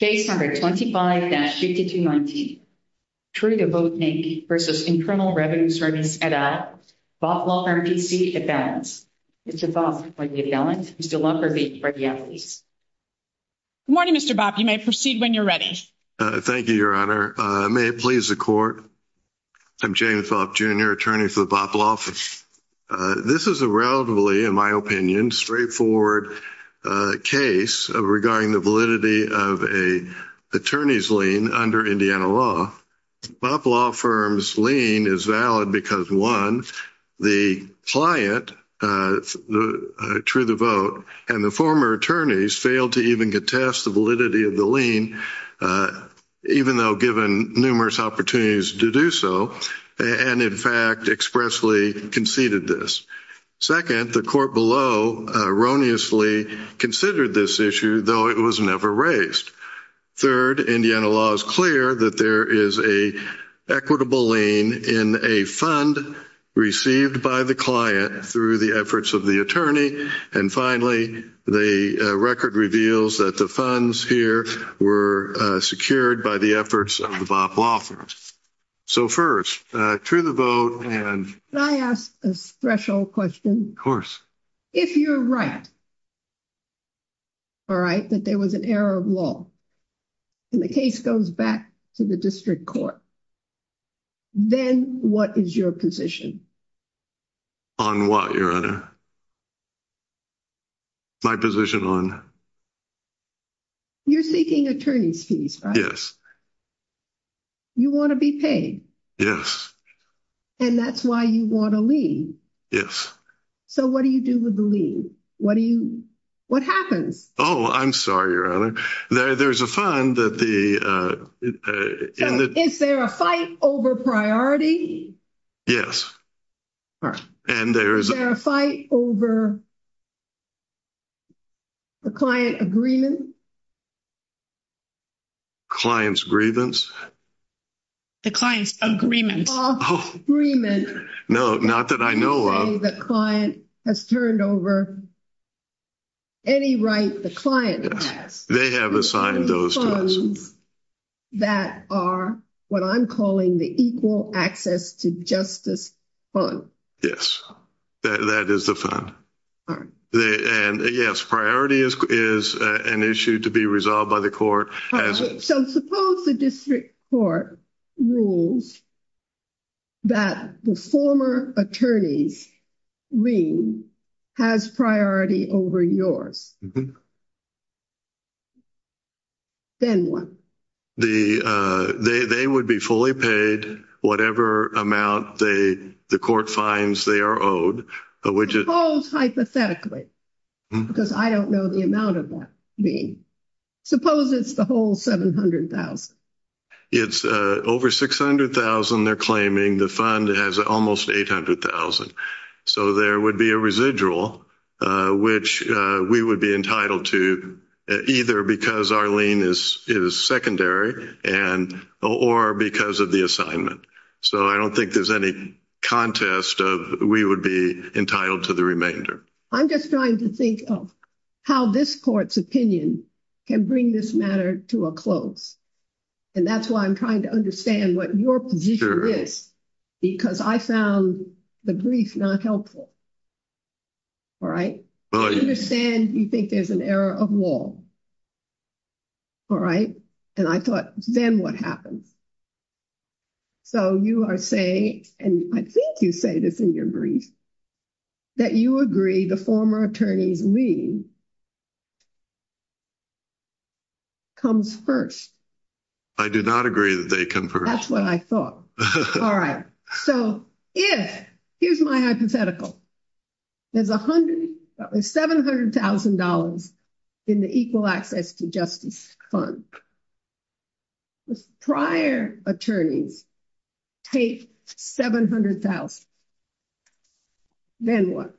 Case No. 25-219, True to Vote Name v. Incremental Revenue Service at a Botloff RTC Event. Mr. Bob, are you there? Mr. Lockhart, may I start you out, please? Good morning, Mr. Bob. You may proceed when you're ready. Thank you, Your Honor. May it please the Court? I'm James Lockhart, Jr., Attorney for the Botloff. This is a relatively, in my opinion, straightforward case regarding the validity of an attorney's lien under Indiana law. Botloff firm's lien is valid because, one, the client, True to Vote, and the former attorneys failed to even contest the validity of the lien, even though given numerous opportunities to do so, and, in fact, expressly conceded this. Second, the court below erroneously considered this issue, though it was never raised. Third, Indiana law is clear that there is an equitable lien in a fund received by the client through the efforts of the attorney. And finally, the record reveals that the funds here were secured by the efforts of the Botloff firm. So, first, True to Vote and... Can I ask a special question? Of course. If you're right, all right, that there was an error of law, and the case goes back to the district court, then what is your position? On what, Your Honor? My position on... You're seeking attorney's fees, right? Yes. You want to be paid? Yes. And that's why you want a lien? Yes. So, what do you do with the lien? What do you... What happens? Oh, I'm sorry, Your Honor. There's a fund that the... Is there a fight over priority? Yes. And there's... Is there a fight over the client agreement? Client's grievance? The client's agreement. Oh. No, not that I know of. The client has turned over any right the client has. They have assigned those to us. That are what I'm calling the equal access to justice fund. That is the fund. And yes, priority is an issue to be resolved by the court. So, suppose the district court rules that the former attorney's lien has priority over yours. Then what? They would be fully paid whatever amount the court finds they are owed. Suppose, hypothetically, because I don't know the amount of that lien. Suppose it's the whole $700,000. It's over $600,000 they're claiming. The fund has almost $800,000. So, there would be a residual which we would be entitled to either because our lien is secondary or because of the assignment. So, I don't think there's any contest of we would be entitled to the remainder. I'm just trying to think of how this court's opinion can bring this matter to a close. And that's why I'm trying to understand what your position is. Because I found the brief not helpful. All right? I understand you think there's an error of law. All right? And I thought, then what happens? So, you are saying, and I think you say this in your brief, that you agree the former attorney's lien comes first. I do not agree that they come first. That's what I thought. All right. So, here's my hypothetical. There's $700,000 in the equal access to justice fund. The prior attorney paid $700,000. Then what?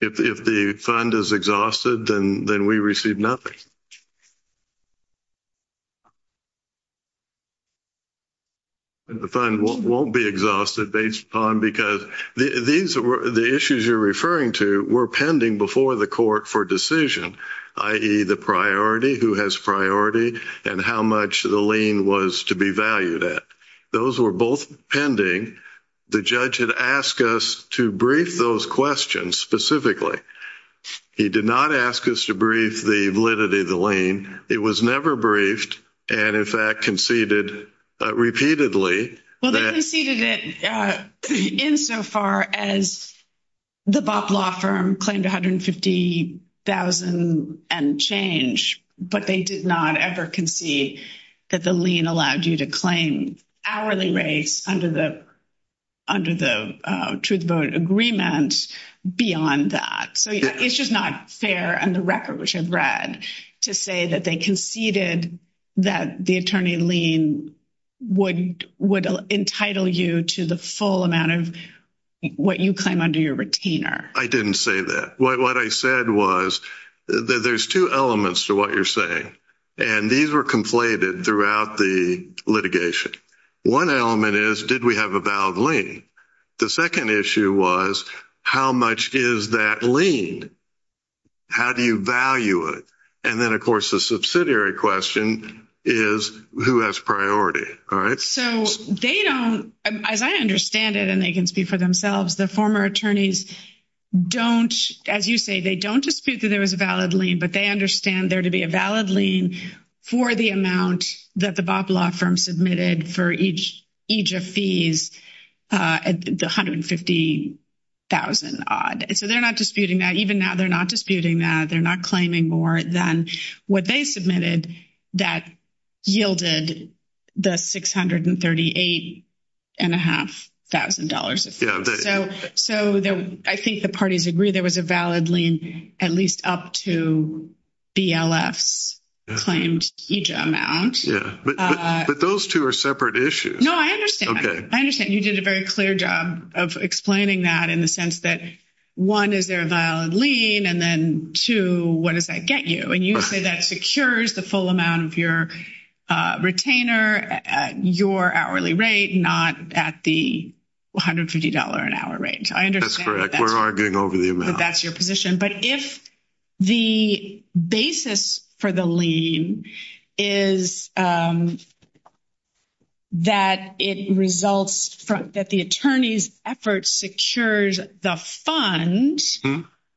If the fund is exhausted, then we receive nothing. The fund won't be exhausted because the issues you're referring to were pending before the court for decision. I.e., the priority, who has priority, and how much the lien was to be valued at. Those were both pending. The judge had asked us to brief those questions specifically. He did not ask us to brief the validity of the lien. It was never briefed, and in fact, conceded repeatedly. Well, they conceded it insofar as the BOP law firm claimed $150,000 and change. But they did not ever concede that the lien allowed you to claim hourly rates under the truth vote agreement beyond that. It's just not fair in the record, which I've read, to say that they conceded that the attorney lien would entitle you to the full amount of what you claim under your retainer. I didn't say that. What I said was that there's two elements to what you're saying, and these were conflated throughout the litigation. One element is, did we have a valid lien? The second issue was, how much is that lien? How do you value it? And then, of course, the subsidiary question is, who has priority, all right? So they don't, as I understand it, and they can speak for themselves, the former attorneys don't, as you say, they don't dispute that there was a valid lien, but they understand there to be a valid lien for the amount that the BOP law firm submitted for each of these, the $150,000 odd. So they're not disputing that. Even now, they're not disputing that. They're not claiming more than what they submitted that yielded the $638,500. So I think the parties agree there was a valid lien, at least up to DLS claimed each amount. But those two are separate issues. No, I understand. I understand. You did a very clear job of explaining that in the sense that, one, is there a valid lien, and then, two, what does that get you? And you say that secures the full amount of your retainer at your hourly rate, not at the $150 an hour rate. I understand that that's your position. We're arguing over the amount. But if the basis for the lien is that it results from that the attorney's effort secures the fund,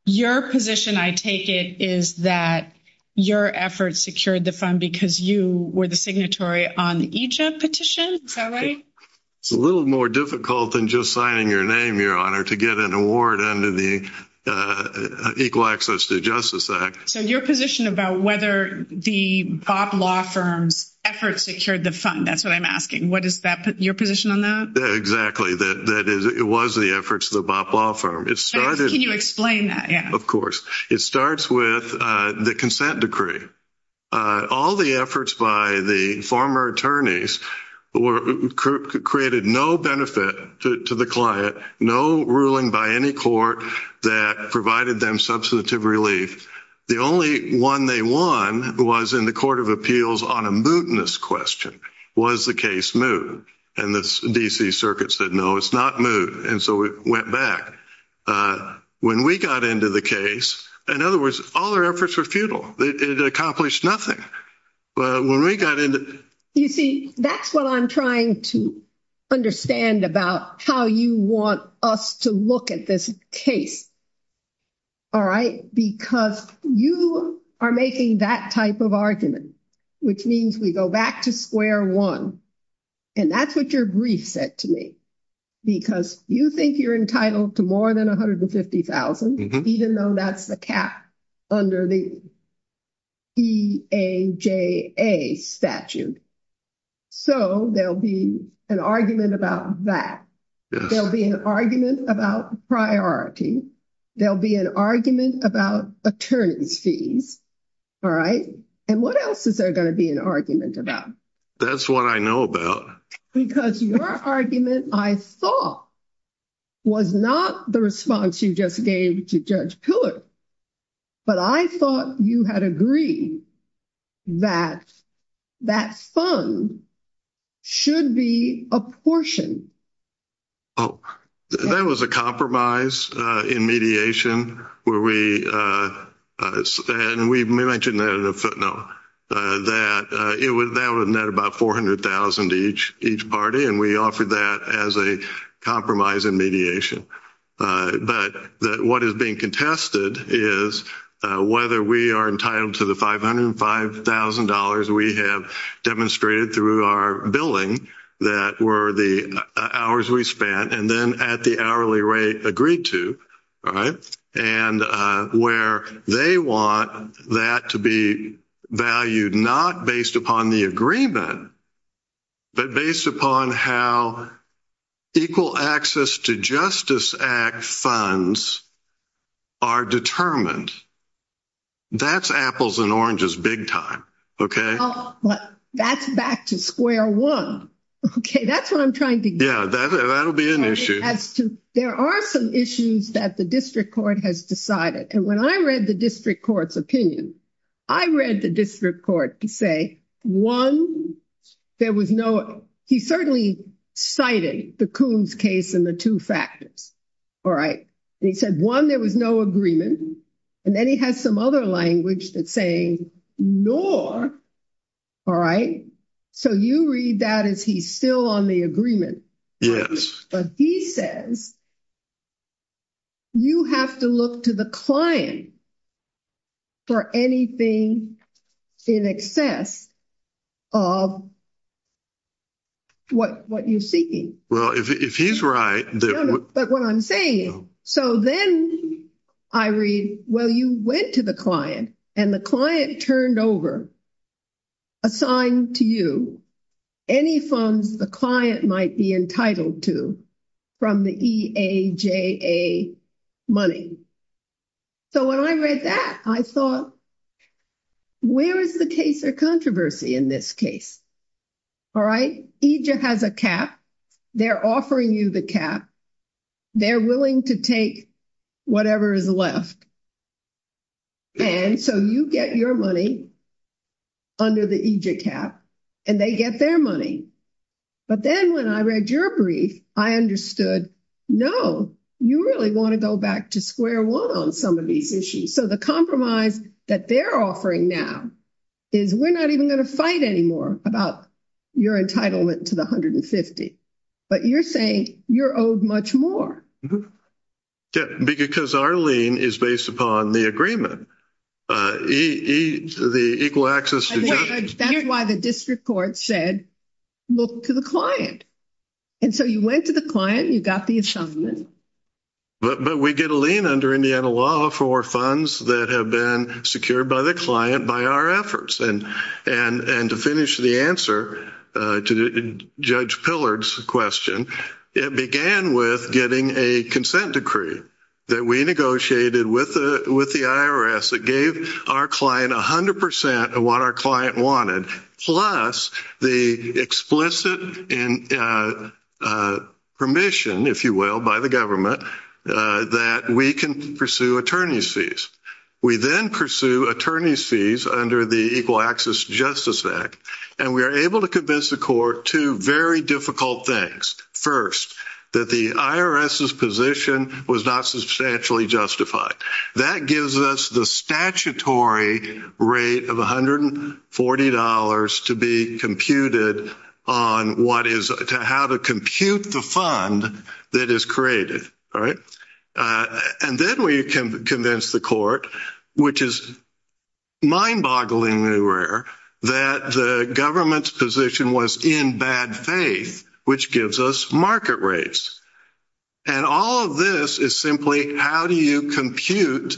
your position, I take it, is that your effort secured the fund because you were the signatory on each of the petitions? Is that right? It's a little more difficult than just signing your name, Your Honor, to get an award under the Equal Access to Justice Act. So your position about whether the BOP law firm's efforts secured the fund, that's what I'm asking. What is your position on that? Exactly. It was the efforts of the BOP law firm. Can you explain that? Of course. It starts with the consent decree. All the efforts by the former attorneys created no benefit to the client, no ruling by any court that provided them substantive relief. The only one they won was in the Court of Appeals on a mootness question. Was the case moot? And the D.C. Circuit said, no, it's not moot. And so it went back. When we got into the case, in other words, all their efforts were futile. It accomplished nothing. You see, that's what I'm trying to understand about how you want us to look at this case. All right? Because you are making that type of argument, which means we go back to square one. And that's what your brief said to me. Because you think you're entitled to more than $150,000, even though that's the cap under the B.A.J.A. statute. So there'll be an argument about that. There'll be an argument about priority. There'll be an argument about attorney fees. All right? And what else is there going to be an argument about? That's what I know about. Because your argument, I thought, was not the response you just gave to Judge Piller. But I thought you had agreed that that fund should be apportioned. Oh, that was a compromise in mediation. And we mentioned that in the footnote that that would net about $400,000 each party. And we offered that as a compromise in mediation. But what is being contested is whether we are entitled to the $505,000 we have demonstrated through our billing that were the hours we spent and then at the hourly rate agreed to. All right? And where they want that to be valued not based upon the agreement, but based upon how equal access to Justice Act funds are determined. That's apples and oranges big time. Okay? That's back to square one. Okay, that's what I'm trying to get at. Yeah, that'll be an issue. There are some issues that the district court has decided. And when I read the district court's opinion, I read the district court to say, one, there was no, he certainly cited the Coons case and the two factors. All right? He said, one, there was no agreement. And then he has some other language that's saying, nor. All right? So you read that as he's still on the agreement. Yes. But he says, you have to look to the client for anything in excess of what you're seeking. Well, if he's right. But what I'm saying, so then I read, well, you went to the client and the client turned over a sign to you, any funds the client might be entitled to from the EAJA money. So when I read that, I thought, where is the case of controversy in this case? All right? EJA has a cap. They're offering you the cap. They're willing to take whatever is left. And so you get your money under the EJA cap and they get their money. But then when I read your brief, I understood, no, you really want to go back to square one on some of these issues. So the compromise that they're offering now is we're not even going to fight anymore about your entitlement to the 150. But you're saying you're owed much more. Yeah. Because our lien is based upon the agreement. The Equal Access... That's why the district court said, look to the client. And so you went to the client, you got the assignment. But we get a lien under Indiana law for funds that have been secured by the client by our efforts. And to finish the answer to Judge Pillard's question, it began with getting a consent decree that we negotiated with the IRS that gave our client 100% of what our client wanted, plus the explicit permission, if you will, by the government that we can pursue attorney's We then pursue attorney's fees under the Equal Access Justice Act. And we are able to convince the court two very difficult things. First, that the IRS's position was not substantially justified. That gives us the statutory rate of $140 to be computed on what is... To have it compute the fund that is created. And then we can convince the court, which is mind-bogglingly rare, that the government's position was in bad faith, which gives us market rates. And all of this is simply how do you compute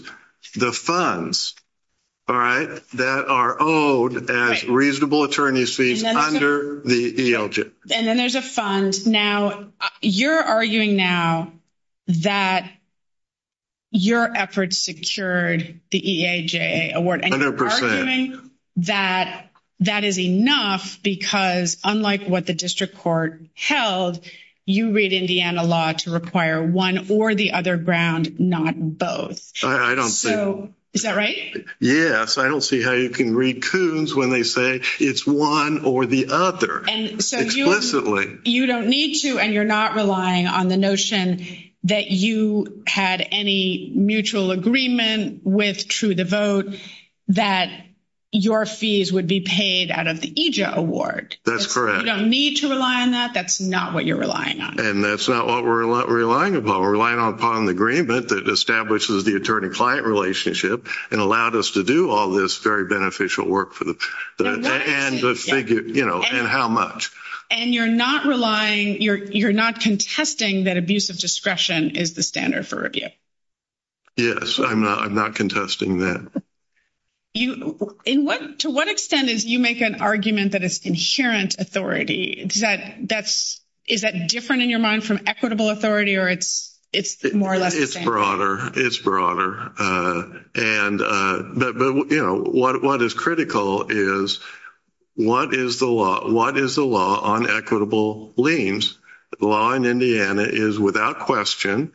the funds that are owed as reasonable attorney's fees under the ELJ? And then there's a fund. Now, you're arguing now that your efforts secured the EAJA award. 100%. And you're arguing that that is enough because, unlike what the district court held, you read Indiana law to require one or the other ground, not both. I don't see... So, is that right? Yes. I don't see how you can read twos when they say it's one or the other. And so you... Explicitly. You don't need to, and you're not relying on the notion that you had any mutual agreement with True the Vote that your fees would be paid out of the EAJA award. That's correct. You don't need to rely on that. That's not what you're relying on. And that's not what we're relying upon. We're relying upon the agreement that establishes the attorney-client relationship and allowed us to do all this very beneficial work for the... And how much. And you're not relying... You're not contesting that abuse of discretion is the standard for review. Yes. I'm not contesting that. To what extent is... You make an argument that it's insurance authority. Is that different in your mind from equitable authority or it's more or less the same? It's broader. It's broader. But what is critical is what is the law on equitable liens? The law in Indiana is without question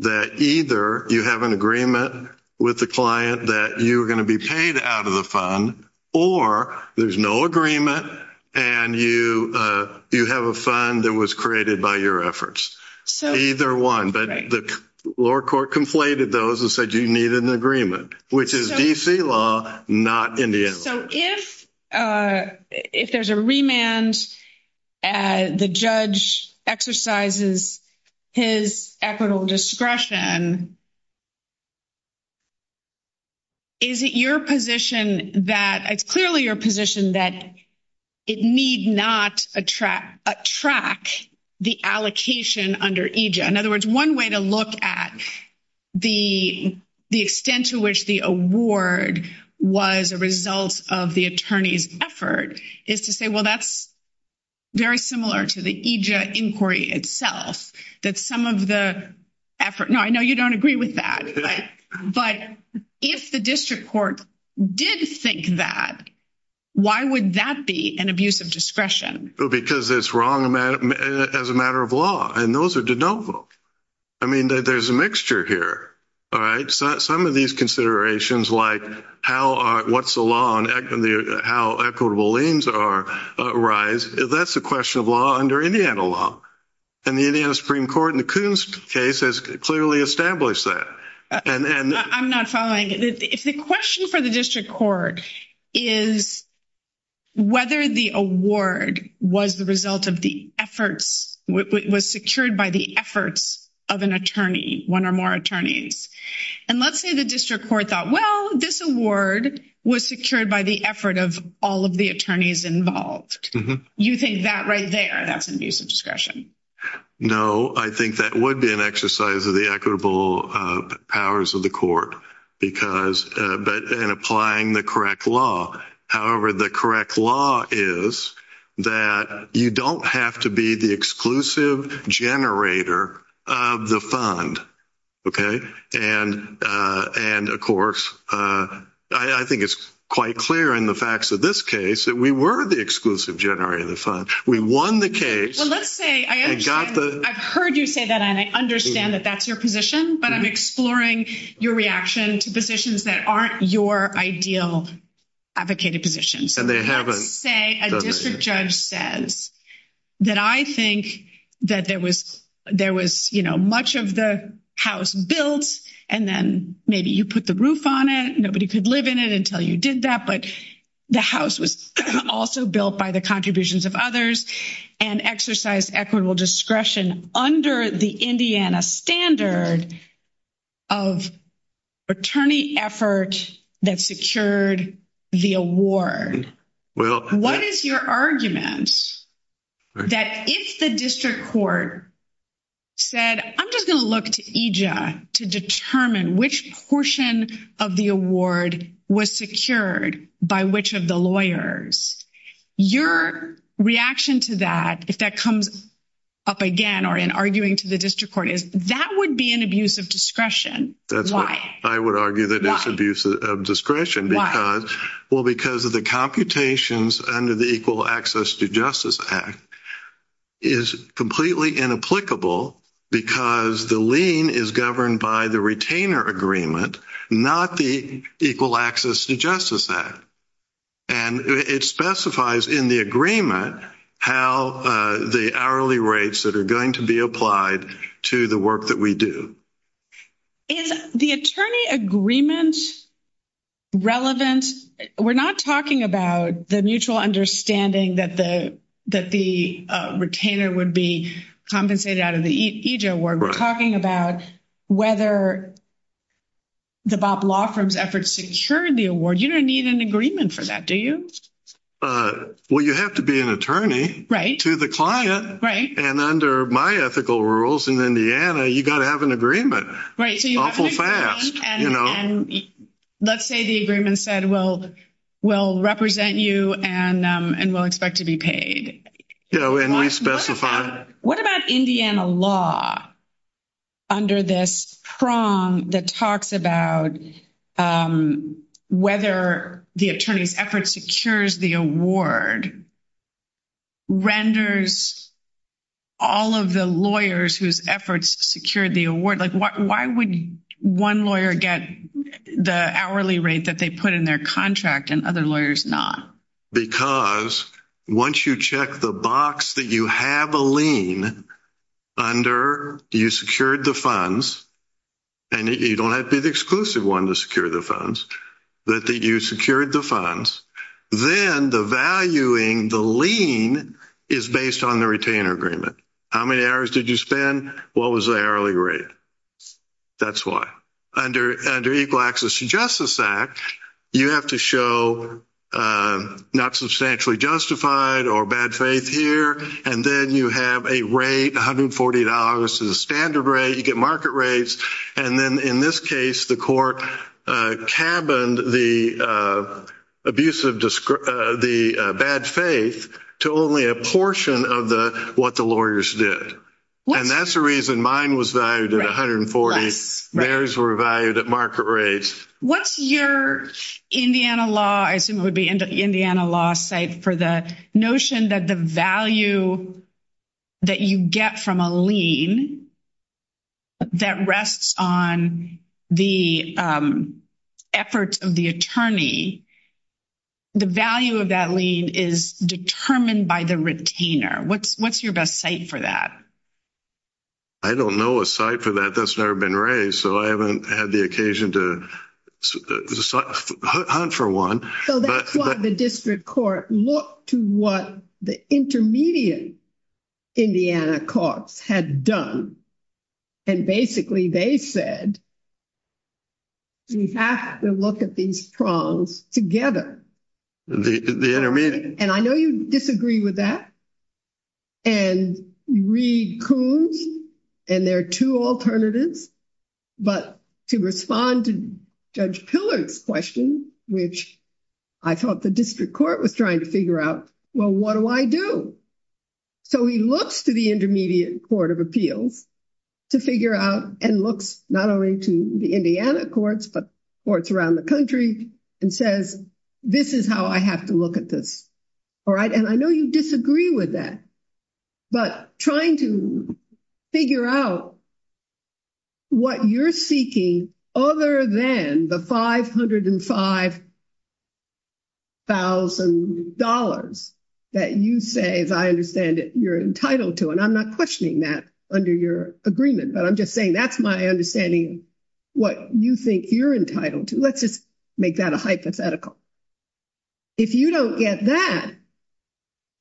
that either you have an agreement with the client that you're going to be paid out of the fund or there's no agreement and you have a fund that was created by your efforts. So... Either one. Right. The lower court conflated those and said you needed an agreement, which is D.C. law, not Indiana law. So if there's a remand, the judge exercises his equitable discretion, is it your position that... It's clearly your position that it need not attract the allocation under EJ. In other words, one way to look at the extent to which the award was a result of the attorney's effort is to say, well, that's very similar to the EJ inquiry itself, that some of the effort... Now, I know you don't agree with that, but if the district court did think that, why would that be an abuse of discretion? Because it's wrong as a matter of law, and those are de novo. I mean, there's a mixture here, all right? Some of these considerations, like what's the law and how equitable liens arise, that's a question of law under Indiana law. And the Indiana Supreme Court in the Coons case has clearly established that. I'm not following. If the question for the district court is whether the award was the result of the efforts, was secured by the efforts of an attorney, one or more attorneys, and let's say the district court thought, well, this award was secured by the effort of all of the attorneys involved, you think that right there, that's an abuse of discretion? No, I think that would be an exercise of the equitable powers of the court, but in applying the correct law. However, the correct law is that you don't have to be the exclusive generator of the fund, okay? And, of course, I think it's quite clear in the facts of this case that we were the exclusive generator of the fund. We won the case. So let's say, I've heard you say that and I understand that that's your position, but I'm exploring your reaction to positions that aren't your ideal advocated positions. And they haven't. Let's say a district judge says that I think that there was, you know, much of the house built and then maybe you put the roof on it, nobody could live in it until you did that, but the house was also built by the contributions of others and exercised equitable discretion under the Indiana standard of attorney effort that secured the award. What is your argument that if the district court said, I'm just going to look to EJA to determine which portion of the award was secured by which of the lawyers, your reaction to that, if that comes up again or in arguing to the district court, is that would be an abuse of discretion. Why? I would argue that it's abuse of discretion. Well, because of the computations under the Equal Access to Justice Act is completely inapplicable because the lien is governed by the retainer agreement, not the Equal Access to Justice Act. And it specifies in the agreement how the hourly rates that are going to be applied to the work that we do. In the attorney agreements relevance, we're not talking about the mutual understanding that the retainer would be compensated out of the EJA award. We're talking about whether the Bob Law Firm's efforts secured the award. You don't need an agreement for that, do you? Well, you have to be an attorney to the client. And under my ethical rules in Indiana, you've got to have an agreement. Awful fast. And let's say the agreement said, well, we'll represent you and we'll expect to be paid. Yeah, when we specify. What about Indiana law under this prong that talks about whether the attorney's effort secures the award renders all of the lawyers whose efforts secured the award? Why would one lawyer get the hourly rate that they put in their contract and other lawyers not? Because once you check the box that you have a lien under you secured the funds, and you don't have to be the exclusive one to secure the funds, that you secured the funds. Then the valuing, the lien, is based on the retainer agreement. How many hours did you spend? What was the hourly rate? That's why. Under Equal Access to Justice Act, you have to show not substantially justified or bad faith here. And then you have a rate, $140 is the standard rate. You get market rates. And then in this case, the court cabined the abuse of the bad faith to only a portion of what the lawyers did. And that's the reason mine was valued at $140. Mary's were valued at market rates. What's your Indiana law, I assume it would be Indiana law, for the notion that the value that you get from a lien that rests on the effort of the attorney, the value of that lien is determined by the retainer. What's your best site for that? I don't know a site for that. That's never been raised. So I haven't had the occasion to hunt for one. So that's why the district court looked to what the intermediate Indiana courts had done. And basically they said, we have to look at these problems together. The intermediate. And I know you disagree with that. And Reed Coons, and there are two alternatives. But to respond to Judge Pillard's question, which I thought the district court was trying to figure out, well, what do I do? So he looks to the intermediate court of appeals to figure out and looks not only to the Indiana courts, but courts around the country and says, this is how I have to look at this. All right. And I know you disagree with that. But trying to figure out what you're seeking, other than the $505,000 that you say, as I understand it, you're entitled to, and I'm not questioning that under your agreement, but I'm just saying that's my understanding, what you think you're entitled to. Let's just make that a hypothetical. If you don't get that,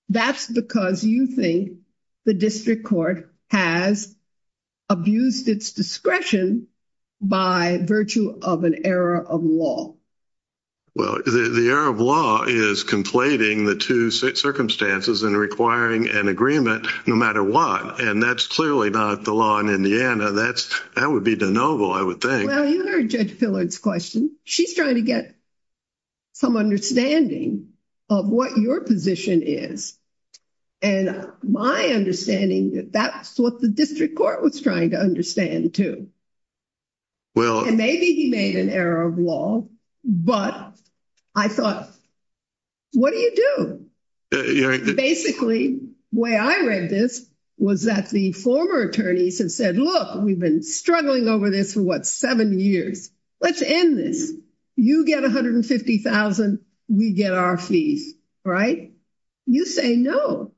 that's because you think the district court has abused its discretion by virtue of an error of law. Well, the error of law is conflating the two circumstances and requiring an agreement no matter what. And that's clearly not the law in Indiana. That would be de noble, I would think. Well, you heard Judge Pillard's question. She's trying to get some understanding of what your position is. And my understanding that that's what the district court was trying to understand too. And maybe he made an error of law, but I thought, what do you do? Basically, the way I read this was that the former attorneys have said, look, we've been struggling over this for, what, seven years. Let's end this. You get $150,000. We get our fee, right? You say no.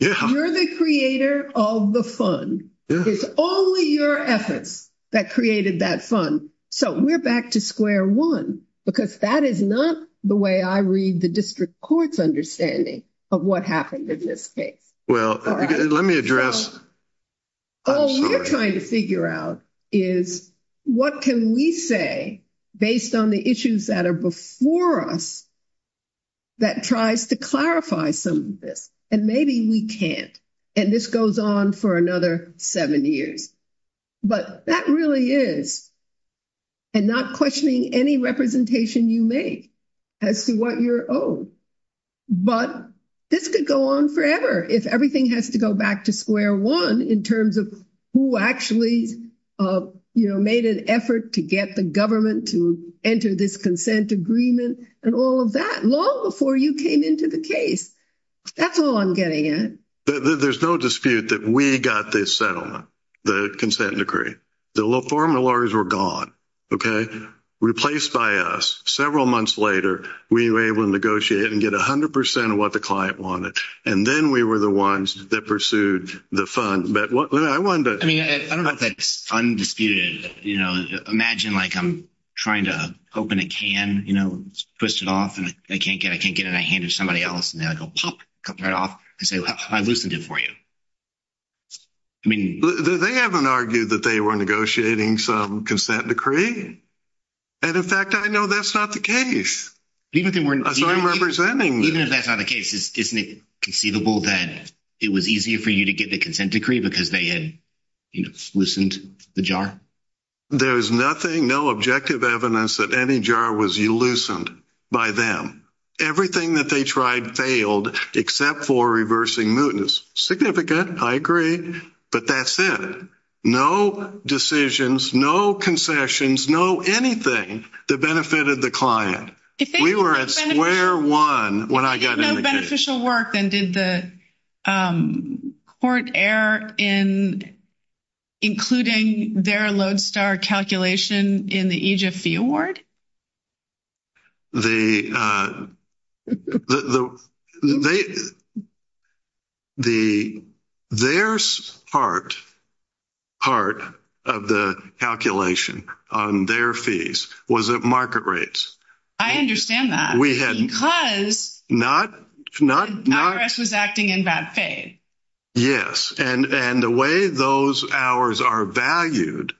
You're the creator of the fund. It's only your efforts that created that fund. So we're back to square one, because that is not the way I read the district court's understanding of what happened in this case. Well, let me address. All we're trying to figure out is, what can we say based on the issues that are before us that tries to clarify some of this? And maybe we can't. And this goes on for another seven years. But that really is. And not questioning any representation you make as to what you're owed. But this could go on forever, if everything has to go back to square one in terms of who actually made an effort to get the government to enter this consent agreement and all of that, long before you came into the case. That's all I'm getting at. There's no dispute that we got this settlement, the consent decree. The former lawyers were gone, okay? Replaced by us. Several months later, we were able to negotiate and get 100% of what the client wanted. And then we were the ones that pursued the fund. But I wonder. I don't know if that's undisputed. Imagine I'm trying to open a can, push it off, and I can't get it. I can't get it in the hand of somebody else. And then I go, pop, cut right off. I say, well, I loosened it for you. I mean. They haven't argued that they were negotiating some consent decree. And, in fact, I know that's not the case. That's what I'm representing. Even if that's not the case, isn't it conceivable that it was easier for you to get the consent decree because they had loosened the jar? There's nothing, no objective evidence that any jar was loosened by them. Everything that they tried failed except for reversing mootness. Significant. I agree. But that's it. No decisions, no concessions, no anything that benefited the client. We were at square one when I got in the case. Did they have beneficial work and did the court err in including their Lodestar calculation in the EGFB award? Their part of the calculation on their fees was at market rates. I understand that. Not. The IRS was acting in bad faith. Yes. And the way those hours are valued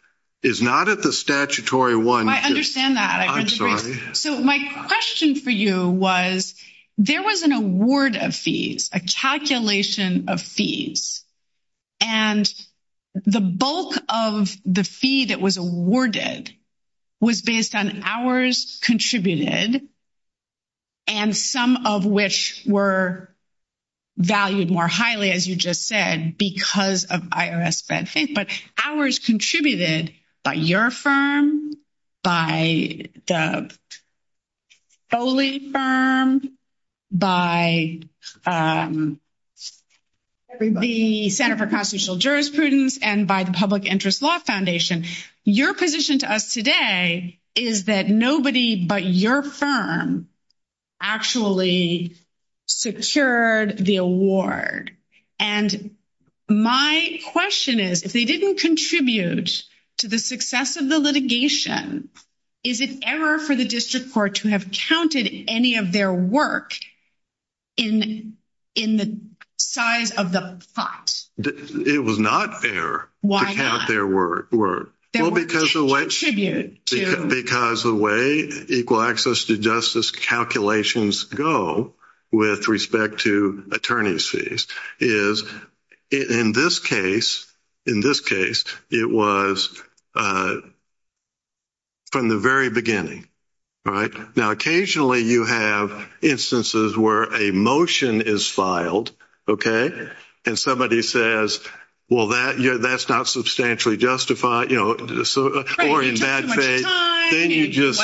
is not at the statutory one. I understand that. I'm sorry. My question for you was there was an award of fees, a calculation of fees, and the bulk of the fee that was awarded was based on hours contributed and some of which were valued more highly, as you just said, because of IRS bad faith. But hours contributed by your firm, by the Foley firm, by the Center for Constitutional Jurisprudence, and by the Public Interest Law Foundation. Your position to us today is that nobody but your firm actually secured the award. And my question is, if they didn't contribute to the success of the litigation, is it error for the district court to have counted any of their work in the size of the pot? It was not error to count their work. Because the way equal access to justice calculations go with respect to is, in this case, it was from the very beginning. Now, occasionally you have instances where a motion is filed, okay, and somebody says, well, that's not substantially justified. Or in bad faith, then you get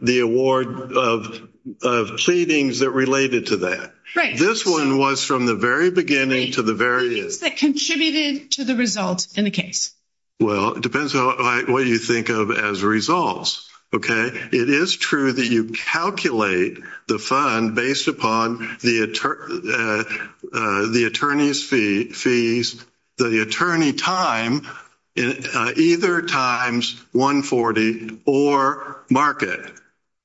the award of savings that related to that. This one was from the very beginning to the very end. Contributed to the result in the case. Well, it depends on what you think of as results, okay? It is true that you calculate the fund based upon the attorney's fees, the attorney time, either times 140 or market,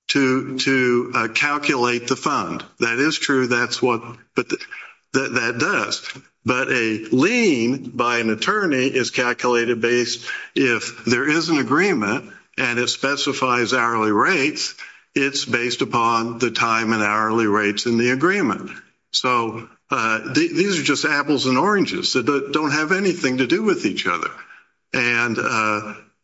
to calculate the fund. That is true. That's what that does. But a lien by an attorney is calculated based if there is an agreement and it specifies hourly rates, it's based upon the time and hourly rates in the agreement. So these are just apples and oranges that don't have anything to do with each other. And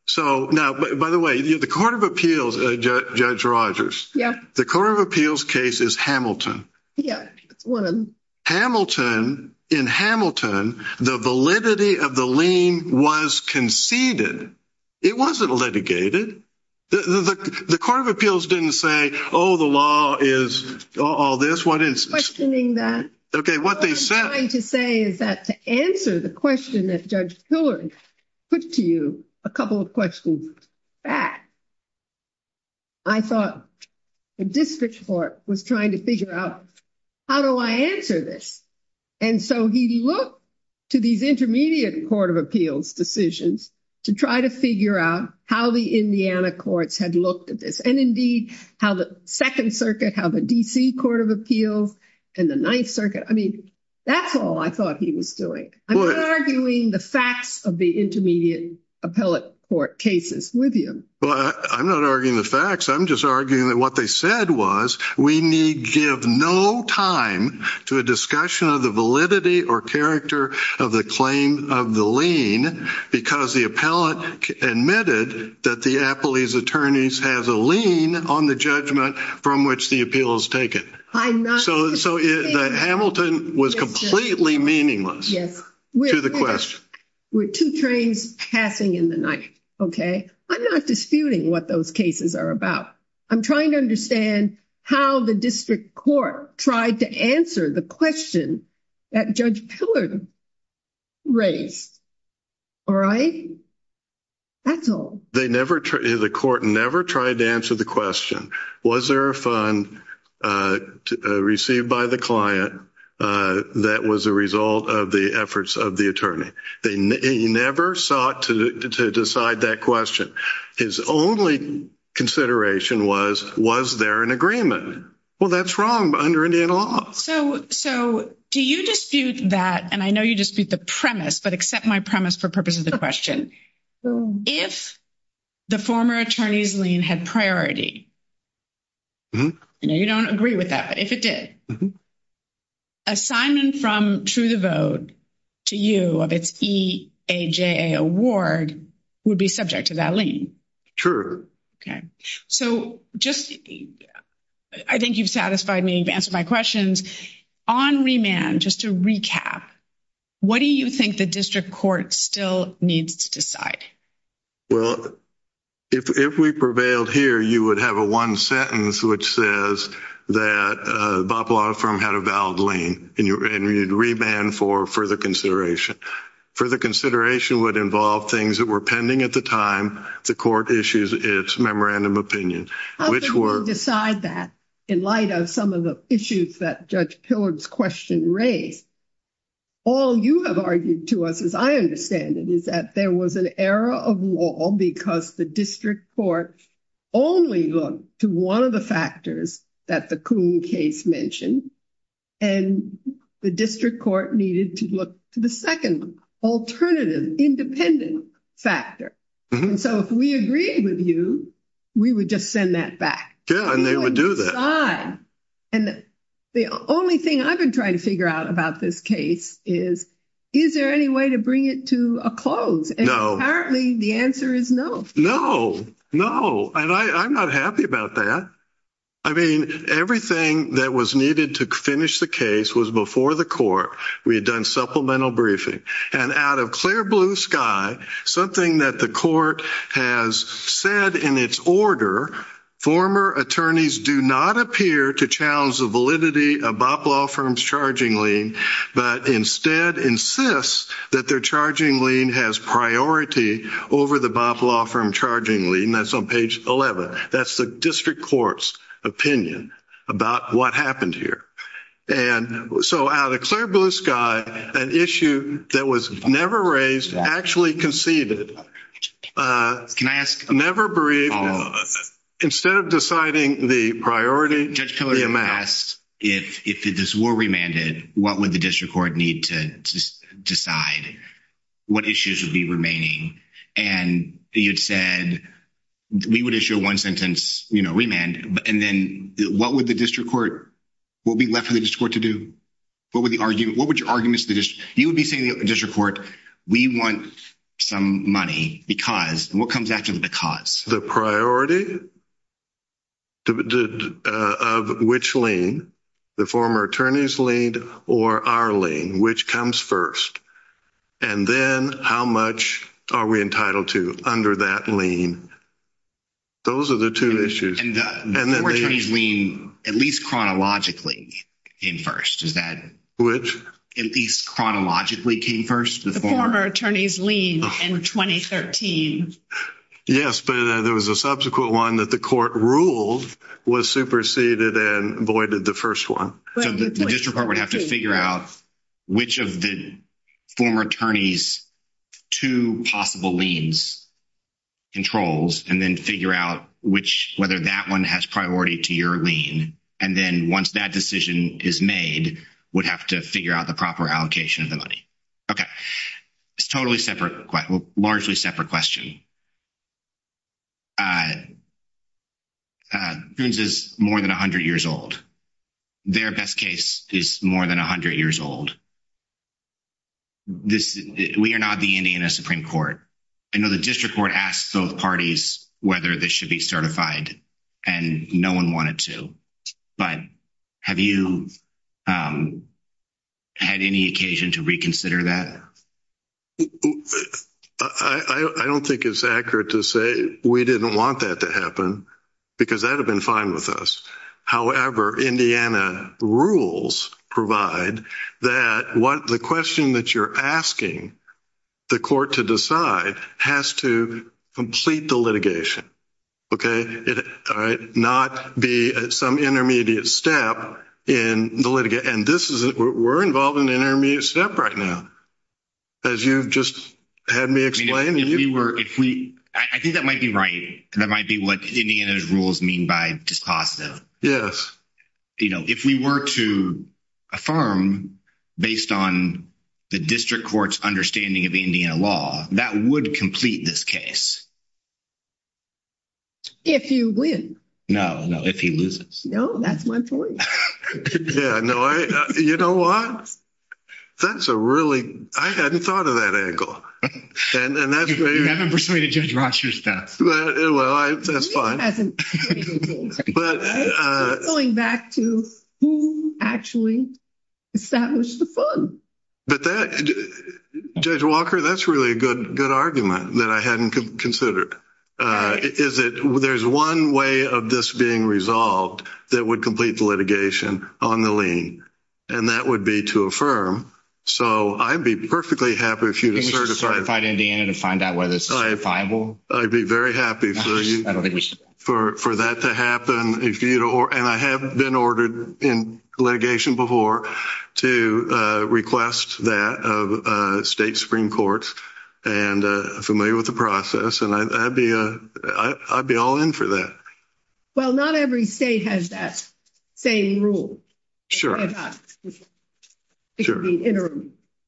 so now, by the way, the Court of Appeals, Judge Rogers, the Court of Appeals case is Hamilton. Yes, one of them. Hamilton, in Hamilton, the validity of the lien was conceded. It wasn't litigated. The Court of Appeals didn't say, oh, the law is all this. That's what it is. Questioning that. Okay, what they said. What I'm trying to say is that to answer the question that Judge Pillard put to you, a couple of questions back, I thought the district court was trying to figure out, how do I answer this? And so he looked to these intermediate Court of Appeals decisions to try to figure out how the Indiana courts had looked at this and, indeed, how the Second Circuit, how the D.C. Court of Appeals, and the Ninth Circuit. I mean, that's all I thought he was doing. I'm not arguing the facts of the intermediate appellate court cases with him. Well, I'm not arguing the facts. I'm just arguing that what they said was we need give no time to a discussion of the validity or character of the claim of the lien because the appellate admitted that the appellee's attorneys has a lien on the judgment from which the appeal is taken. So Hamilton was completely meaningless to the question. We're two trains passing in the night, okay? I'm not disputing what those cases are about. I'm trying to understand how the district court tried to answer the question that Judge Pillard raised. All right? That's all. The court never tried to answer the question, was there a fund received by the client that was a result of the efforts of the attorney? He never sought to decide that question. His only consideration was, was there an agreement? Well, that's wrong under Indiana law. So do you dispute that, and I know you dispute the premise, but accept my premise for purposes of the question. If the former attorney's lien had priority, and you don't agree with that, but if it did, assignment from, through the vote, to you of its EAJA award would be subject to that lien. True. Okay. So just, I think you've satisfied me, you've answered my questions. On remand, just to recap, what do you think the district court still needs to decide? Well, if we prevailed here, you would have a one sentence which says that Bop Law Firm had a valid lien, and you'd remand for further consideration. Further consideration would involve things that were pending at the time the court issues its memorandum opinion. I'll let you decide that in light of some of the issues that Judge Pillard's question raised. All you have argued to us, as I understand it, is that there was an error of law because the district court only looked to one of the factors that the Coon case mentioned, and the district court needed to look to the second, alternative, independent factor. So if we agree with you, we would just send that back. Yeah, and they would do that. And the only thing I've been trying to figure out about this case is, is there any way to bring it to a close? And apparently the answer is no. No, no, and I'm not happy about that. I mean, everything that was needed to finish the case was before the court. We had done supplemental briefing. And out of clear blue sky, something that the court has said in its order, former attorneys do not appear to challenge the validity of Boff Law Firm's charging lien, but instead insist that their charging lien has priority over the Boff Law Firm charging lien. That's on page 11. That's the district court's opinion about what happened here. And so out of clear blue sky, an issue that was never raised actually conceded, never briefed, instead of deciding the priority to be amassed. If this were remanded, what would the district court need to decide? What issues would be remaining? And you said we would issue one sentence, you know, remand, and then what would the district court, what would be left for the district court to do? What would your argument to the district? You would be saying to the district court, we want some money because, and what comes after the because? The priority of which lien, the former attorney's lien or our lien, which comes first. And then how much are we entitled to under that lien? Those are the two issues. And the former attorney's lien, at least chronologically, came first. Which? At least chronologically came first. The former attorney's lien in 2013. Yes, but there was a subsequent one that the court ruled was superseded and voided the first one. So the district court would have to figure out which of the former attorney's two possible liens controls and then figure out which, whether that one has priority to your lien. And then once that decision is made, we'd have to figure out the proper allocation of the money. Okay. It's a totally separate, largely separate question. I, this is more than a hundred years old. Their best case is more than a hundred years old. This, we are not the Indiana Supreme Court. I know the district court asks those parties whether this should be certified and no one wanted to. But have you had any occasion to reconsider that? I don't think it's accurate to say we didn't want that to happen because that would have been fine with us. However, Indiana rules provide that the question that you're asking the court to decide has to complete the litigation. All right. Not be some intermediate step in the litigation. And this is, we're involved in the intermediate step right now. As you just had me explain to you. I think that might be right. And that might be what Indiana's rules mean by dispositive. Yes. You know, if we were to affirm based on the district court's understanding of Indiana law, that would complete this case. If you win. No, no, if you lose. No, that's my point. Yeah, no, I, you know what? That's a really, I hadn't thought of that angle. And that's very. You haven't persuaded Judge Walker's staff. Well, that's fine. He hasn't. But. Going back to who actually established the fund. But that, Judge Walker, that's really a good, good argument that I hadn't considered. There's one way of this being resolved that would complete the litigation on the lien. And that would be to affirm. So, I'd be perfectly happy if you could certify. Can you certify to Indiana and find out whether it's viable? I'd be very happy for that to happen. And I have been ordered in litigation before to request that of state Supreme Court. And I'm familiar with the process. And I'd be all in for that. Well, not every state has that same rule. Sure. As us. Sure.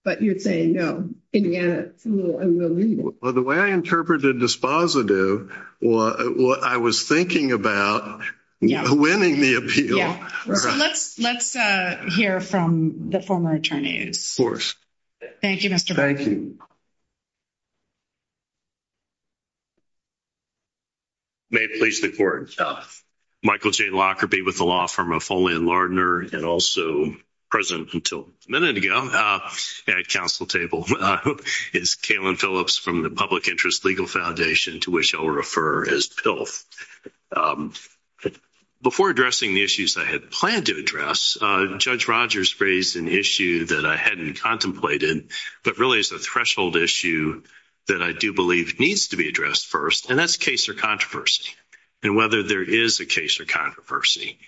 But you're saying no. Indiana is a little unruly. Well, the way I interpreted this positive, what I was thinking about winning the appeal. Let's hear from the former attorneys. Of course. Thank you, Mr. Barton. Thank you. May it please the Court. Michael J. Lockerbie with the law firm of Foley & Lardner and also present until a minute ago at council table. It's Kalen Phillips from the Public Interest Legal Foundation, to which I'll refer as PILF. Before addressing the issues I had planned to address, Judge Rogers raised an issue that I hadn't contemplated. But really it's a threshold issue that I do believe needs to be addressed first. And that's case or controversy and whether there is a case or controversy.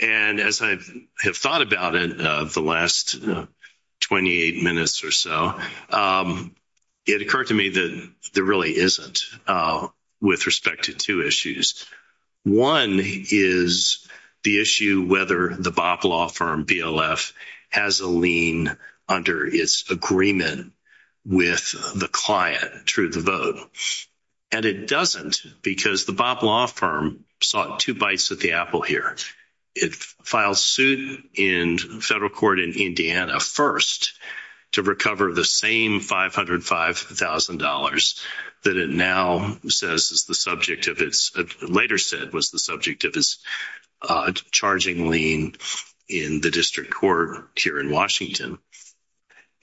And as I have thought about it the last 28 minutes or so, it occurred to me that there really isn't with respect to two issues. One is the issue whether the BOP law firm, BLF, has a lien under its agreement with the client through the vote. And it doesn't because the BOP law firm saw two bites at the apple here. It filed suit in federal court in Indiana first to recover the same $505,000 that it now says is the subject of its, that later said was the subject of its charging lien in the district court here in Washington.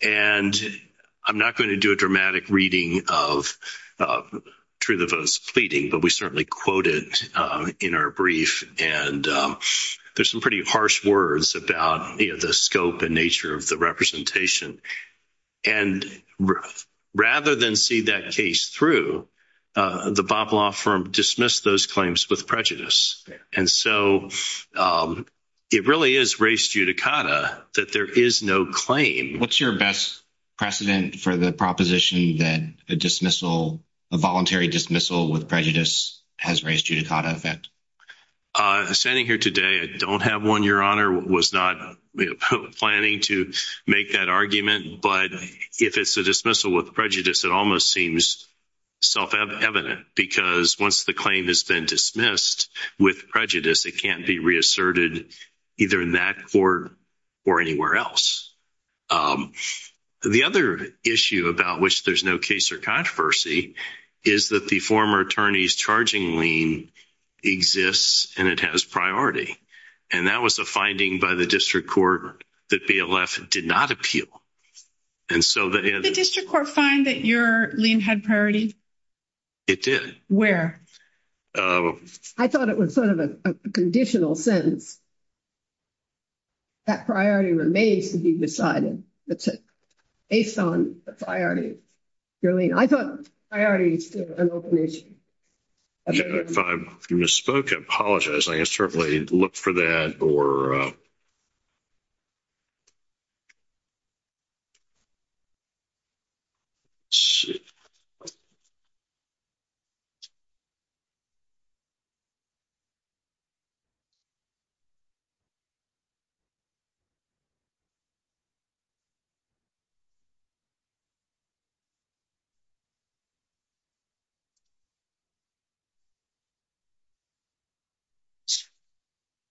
And I'm not going to do a dramatic reading of truth of those pleading, but we certainly quoted in our brief. And there's some pretty harsh words about the scope and nature of the representation. And rather than see that case through, the BOP law firm dismissed those claims with prejudice. And so it really is res judicata that there is no claim. What's your best precedent for the proposition that the dismissal, the voluntary dismissal with prejudice has res judicata effect? Standing here today, I don't have one, Your Honor, was not planning to make that argument. But if it's a dismissal with prejudice, it almost seems self-evident because once the claim has been dismissed with prejudice, it can't be reasserted either in that court or anywhere else. The other issue about which there's no case or controversy is that the former attorney's charging lien exists and it has priority. And that was a finding by the district court that BLF did not appeal. Did the district court find that your lien had priority? It did. Where? I thought it was sort of a conditional sentence. That priority remains to be decided based on the priority of your lien. I thought priority is still an open issue. If I've misspoken, I apologize. I can certainly look for that.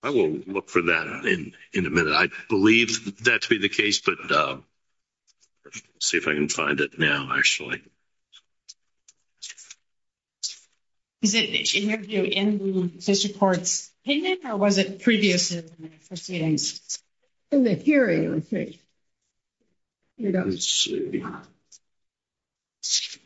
I will look for that in a minute. I believe that to be the case. But let's see if I can find it now, actually. Is it in your view in the district court's opinion or was it previously in the hearing? In the hearing, let's see. Let's see.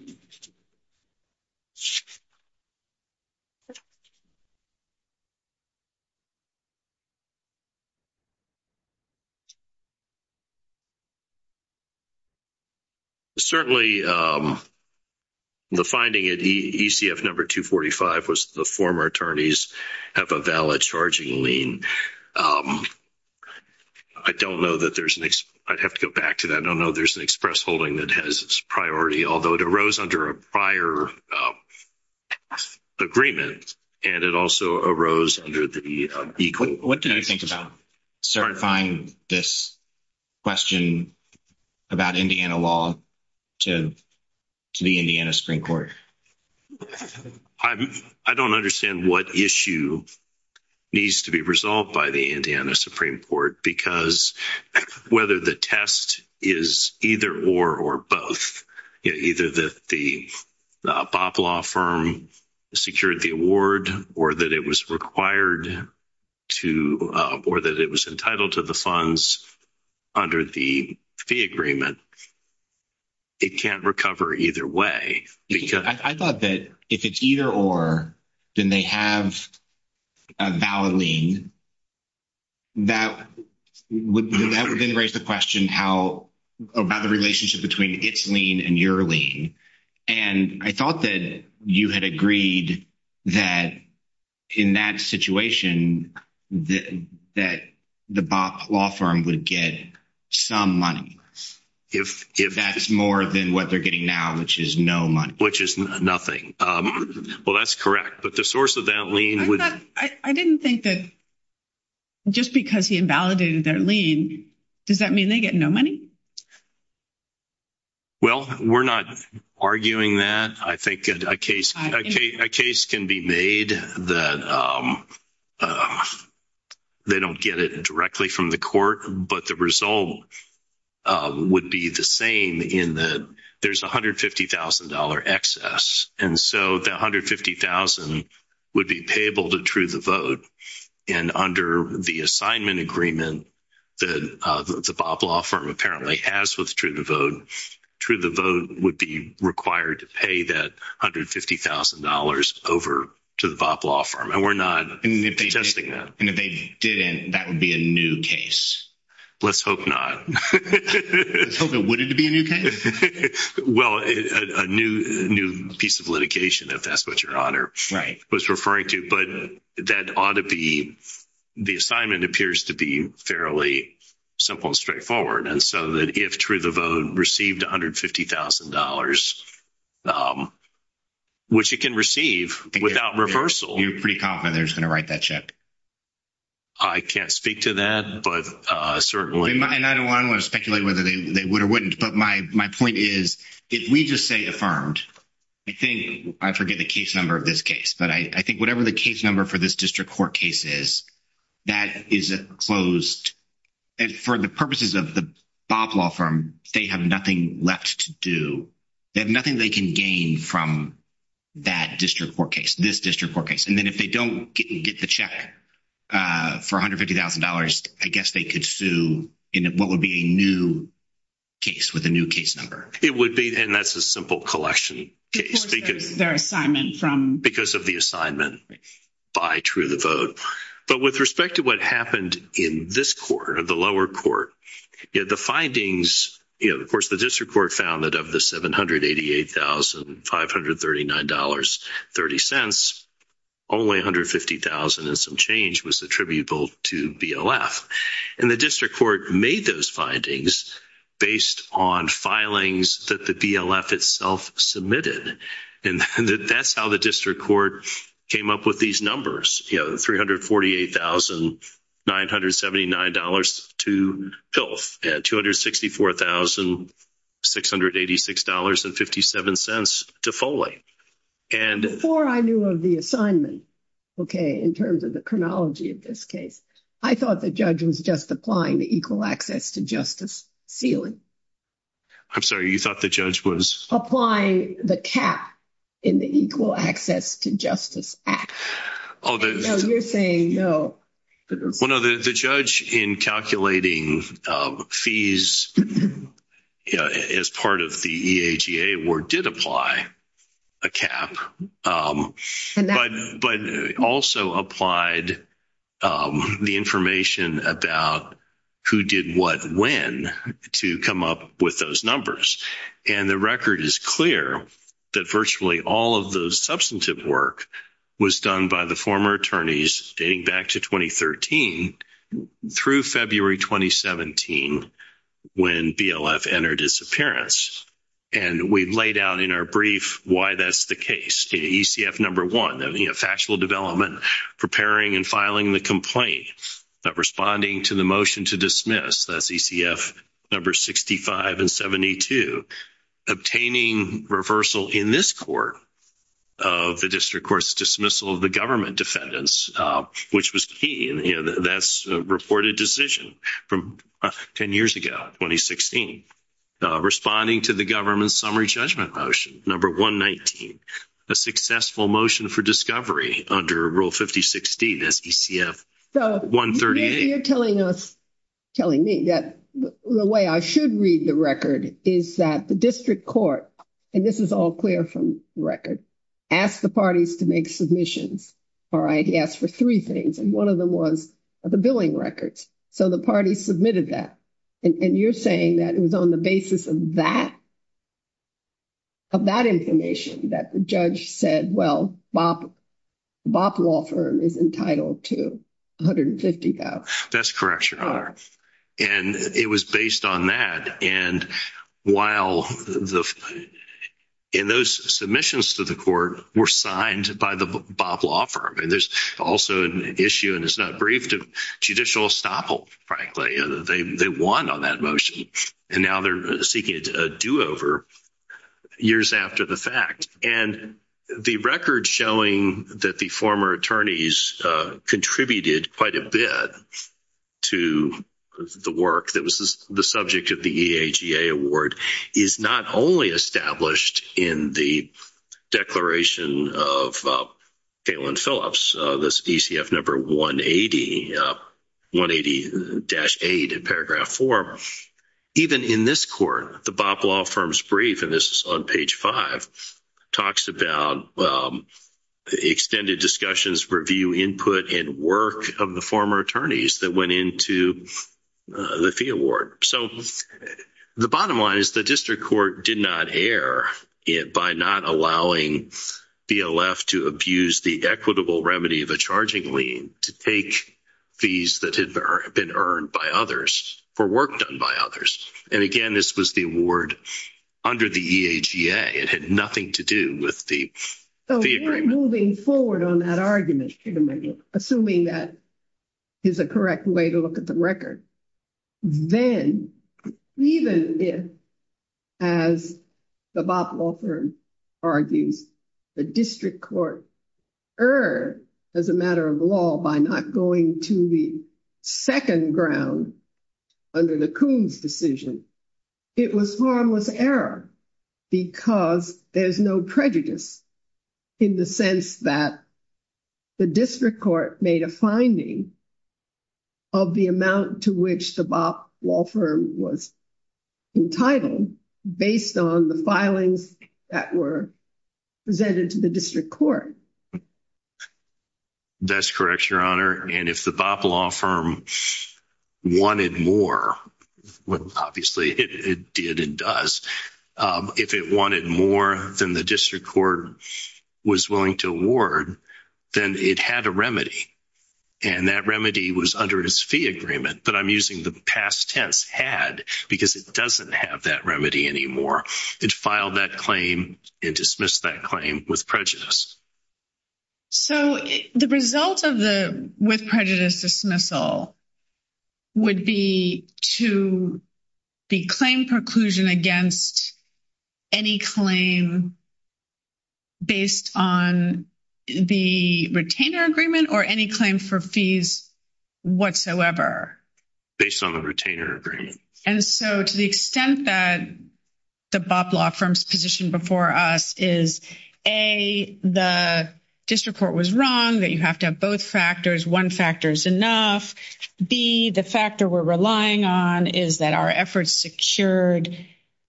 Certainly, the finding at ECF number 245 was the former attorneys have a valid charging lien. I don't know that there's an express holding that has its priority, although it arose under a prior agreement and it also arose under the equal. What do you think about certifying this question about Indiana law to the Indiana Supreme Court? I don't understand what issue needs to be resolved by the Indiana Supreme Court because whether the test is either or or both, either that the BOP law firm secured the award or that it was required to or that it was entitled to the funds under the fee agreement, it can't recover either way. I thought that if it's either or, then they have a valid lien. That would then raise the question about the relationship between its lien and your lien. I thought that you had agreed that in that situation that the BOP law firm would get some money. If that's more than what they're getting now, which is no money. Which is nothing. Well, that's correct, but the source of that lien would... I didn't think that just because he invalidated their lien, does that mean they get no money? Well, we're not arguing that. I think a case can be made that they don't get it directly from the court, but the result would be the same. There's $150,000 excess, and so that $150,000 would be payable to true the vote. And under the assignment agreement that the BOP law firm apparently has with true the vote, true the vote would be required to pay that $150,000 over to the BOP law firm. And we're not suggesting that. And if they didn't, that would be a new case. Let's hope not. Something wouldn't be a new case? Well, a new piece of litigation, if that's what your honor was referring to. But that ought to be... The assignment appears to be fairly simple and straightforward. And so that if true the vote received $150,000, which it can receive without reversal... You're pretty confident they're just going to write that check? I can't speak to that, but certainly... And I don't want to speculate whether they would or wouldn't, but my point is, if we just say affirmed, I think, I forget the case number of this case, but I think whatever the case number for this district court case is, that is closed. And for the purposes of the BOP law firm, they have nothing left to do. They have nothing they can gain from that district court case, this district court case. And then if they don't get the check for $150,000, I guess they could sue in what would be a new case, with a new case number. It would be, and that's a simple collection case. Because of their assignment from... Because of the assignment by true the vote. But with respect to what happened in this court, in the lower court, the findings... Of course, the district court found that of the $788,539.30, only $150,000 and some change was attributable to BLF. And the district court made those findings based on filings that the BLF itself submitted. And that's how the district court came up with these numbers. $348,979 to filth. $264,686.57 to foley. Before I knew of the assignment, okay, in terms of the chronology of this case, I thought the judge was just applying the Equal Access to Justice feeling. I'm sorry, you thought the judge was... Applying the cap in the Equal Access to Justice Act. Although... No, you're saying no. Well, no, the judge in calculating fees as part of the EAGA award did apply a cap. But also applied the information about who did what when to come up with those numbers. And the record is clear that virtually all of the substantive work was done by the former attorneys dating back to 2013 through February 2017 when BLF entered its appearance. And we laid out in our brief why that's the case. ECF number one, factual development, preparing and filing the complaint, but responding to the motion to dismiss. That's ECF number 65 and 72. Obtaining reversal in this court of the district court's dismissal of the government defendants, which was key. That's a reported decision from 10 years ago, 2016. Responding to the government's summary judgment motion, number 119. A successful motion for discovery under Rule 5016, that's ECF 138. You're telling me that the way I should read the record is that the district court, and this is all clear from the record, asked the parties to make submissions. All right? He asked for three things. And one of them was the billing records. So the parties submitted that. And you're saying that it was on the basis of that information that the judge said, well, Bob Lawfirm is entitled to $150,000. That's correct, Your Honor. And it was based on that. And while those submissions to the court were signed by the Bob Lawfirm, and there's also an issue, and it's not briefed, of judicial estoppel, frankly. They won on that motion. And now they're seeking a do-over years after the fact. And the record showing that the former attorneys contributed quite a bit to the work that was the subject of the EAGA award is not only established in the declaration of Katelyn Phillips, this ECF number 180, 180-8 in paragraph 4. Even in this court, the Bob Lawfirm's brief, and this is on page 5, talks about extended discussions, review, input, and work of the former attorneys that went into the fee award. So the bottom line is the district court did not err by not allowing BLF to abuse the equitable remedy of a charging lien to take fees that had been earned by others for work done by others. And again, this was the award under the EAGA. It had nothing to do with the agreement. Moving forward on that argument, assuming that is a correct way to look at the record, then even if, as the Bob Lawfirm argued, the district court erred as a matter of law by not going to the second ground under the Coons decision, it was harmless error because there's no prejudice in the sense that the district court made a finding of the amount to which the Bob Lawfirm was entitled based on the filings that were presented to the district court. That's correct, Your Honor. And if the Bob Lawfirm wanted more, which obviously it did and does, if it wanted more than the district court was willing to award, then it had a remedy. And that remedy was under its fee agreement, but I'm using the past tense, had, because it doesn't have that remedy anymore. It filed that claim and dismissed that claim with prejudice. So the result of the with prejudice dismissal would be to the claim preclusion against any claim based on the retainer agreement or any claim for fees whatsoever? Based on the retainer agreement. And so to the extent that the Bob Lawfirm's position before us is, A, the district court was wrong, that you have to have both factors. One factor is enough. B, the factor we're relying on is that our efforts secured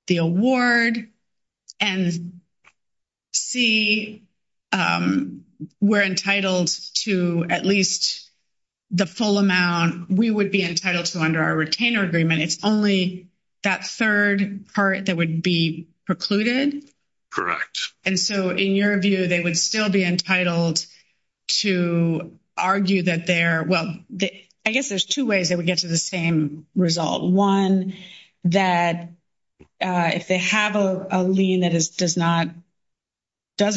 the award. And C, we're entitled to at least the full amount we would be entitled to under our retainer agreement. It's only that third part that would be precluded. And so in your view, they would still be entitled to argue that they're, well, I guess there's two ways they would get to the same result. One, that if they have a lien that does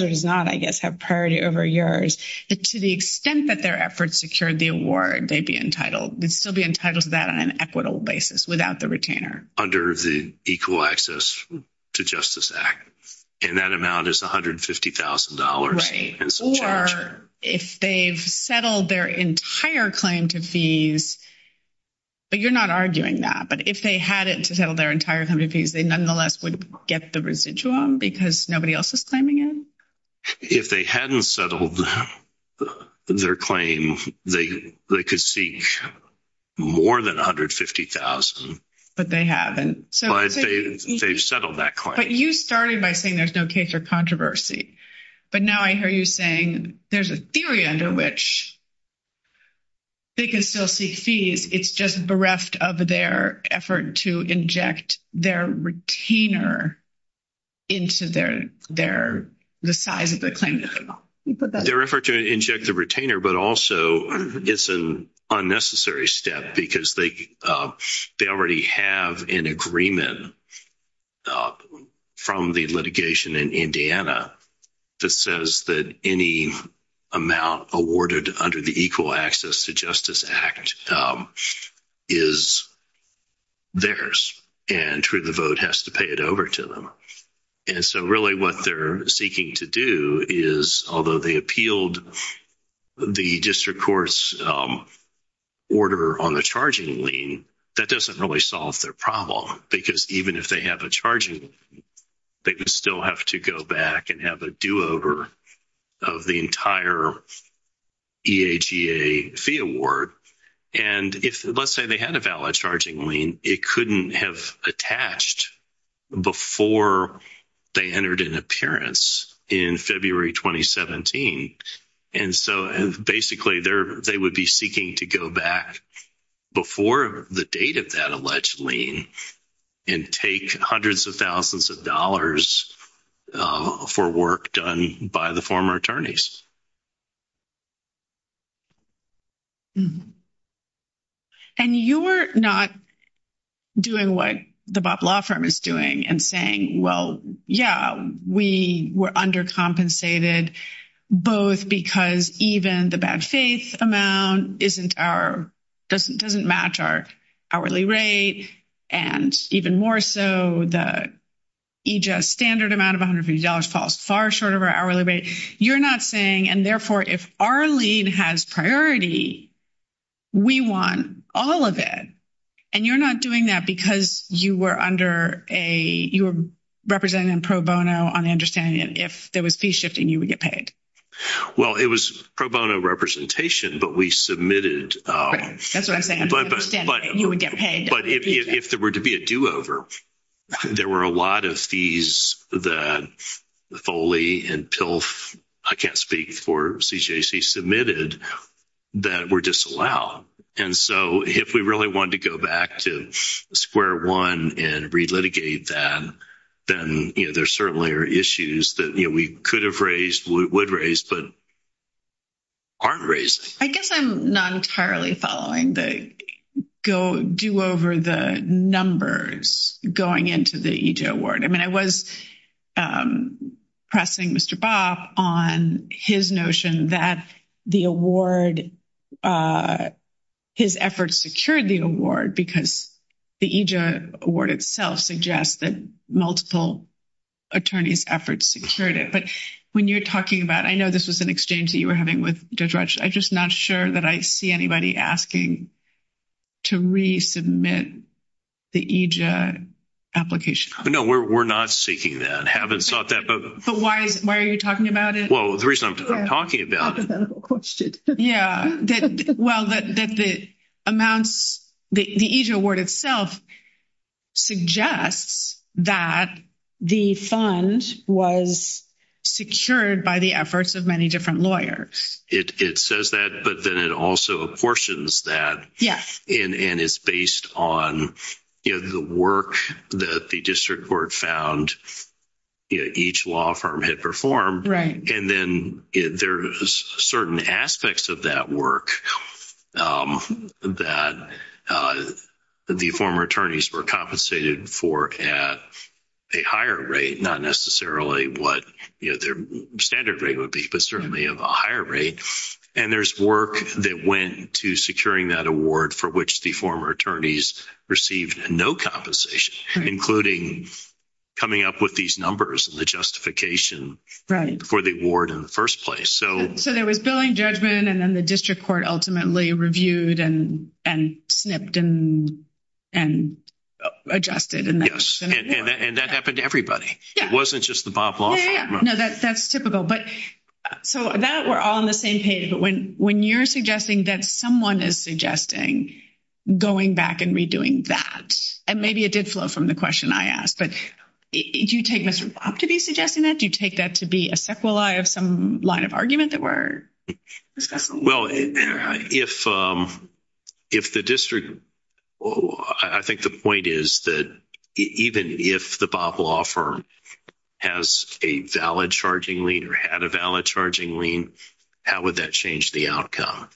or does not, I guess, have priority over yours, to the extent that their efforts secured the award, they'd be entitled. They'd still be entitled to that on an equitable basis without the retainer. Under the Equal Access to Justice Act. And that amount is $150,000. Right. Or if they've settled their entire claim to fees, you're not arguing that, but if they had it to settle their entire claim to fees, they nonetheless would get the residuum because nobody else is claiming it? If they hadn't settled their claim, they could seek more than $150,000. But they haven't. But they've settled that claim. But you started by saying there's no case or controversy. But now I hear you saying there's a theory under which they can still seek fees. It's just bereft of their effort to inject their retainer into their, the size of the claim. Their effort to inject the retainer, but also it's an unnecessary step because they already have an agreement from the litigation in Indiana that says that any amount awarded under the Equal Access to Justice Act is theirs. And truly the vote has to pay it over to them. And so really what they're seeking to do is, although they appealed the district court's order on the charging lien, that doesn't really solve their problem. Because even if they have a charging lien, they would still have to go back and have a do-over of the entire EHEA fee award. And if, let's say, they had a valid charging lien, it couldn't have attached before they entered an appearance in February 2017. And so basically they would be seeking to go back before the date of that alleged lien and take hundreds of thousands of dollars for work done by the former attorneys. And you're not doing what the Bob Law Firm is doing and saying, well, yeah, we were undercompensated both because even the bad faith amount doesn't match our hourly rate. And even more so, the EGES standard amount of $150 falls far short of our hourly rate. You're not saying, and therefore if our lien has priority, we want all of it. And you're not doing that because you were under a, you were representing them pro bono on the understanding that if there was fee shifting, you would get paid. Well, it was pro bono representation, but we submitted. That's what I'm saying. You would get paid. But if there were to be a do-over, there were a lot of fees that Foley and PILF, I can't speak for CJC, submitted that were disallowed. And so if we really wanted to go back to square one and re-litigate that, then there certainly are issues that we could have raised, would raise, but aren't raised. I guess I'm not entirely following the do-over, the numbers going into the EGES award. I mean, I was pressing Mr. Bob on his notion that the award, his efforts secured the award because the EGES award itself suggests that multiple attorneys' efforts secured it. But when you're talking about, I know this was an exchange that you were having with Judge Rutsch. I'm just not sure that I see anybody asking to resubmit the EGES application. No, we're not seeking that. But why are you talking about it? Well, the reason I'm talking about it. Well, the EGES award itself suggests that the funds was secured by the efforts of many different lawyers. It says that, but then it also apportions that. Yes. And it's based on the work that the district court found each law firm had performed. Right. And then there's certain aspects of that work that the former attorneys were compensated for at a higher rate, not necessarily what their standard rate would be, but certainly of a higher rate. And there's work that went to securing that award for which the former attorneys received no compensation, including coming up with these numbers and the justification for the award in the first place. So there was billing judgment, and then the district court ultimately reviewed and snipped and addressed it. Yes, and that happened to everybody. It wasn't just the Bob Law Firm. No, that's typical. But so that we're all on the same page. But when you're suggesting that someone is suggesting going back and redoing that, and maybe it did flow from the question I asked, but do you take Mr. Bob to be suggesting that? Do you take that to be a sequelae of some line of argument that were discussed? Well, if the district – I think the point is that even if the Bob Law Firm has a valid charging lien or had a valid charging lien, how would that change the outcome?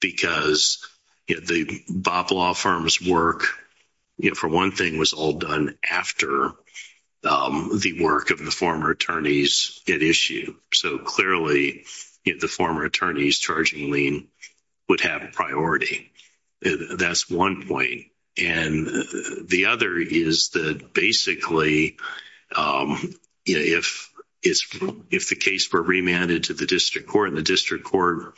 Because the Bob Law Firm's work, for one thing, was all done after the work of the former attorneys it issued. So clearly, the former attorneys charging lien would have priority. That's one point. The other is that basically if the case were remanded to the district court and the district court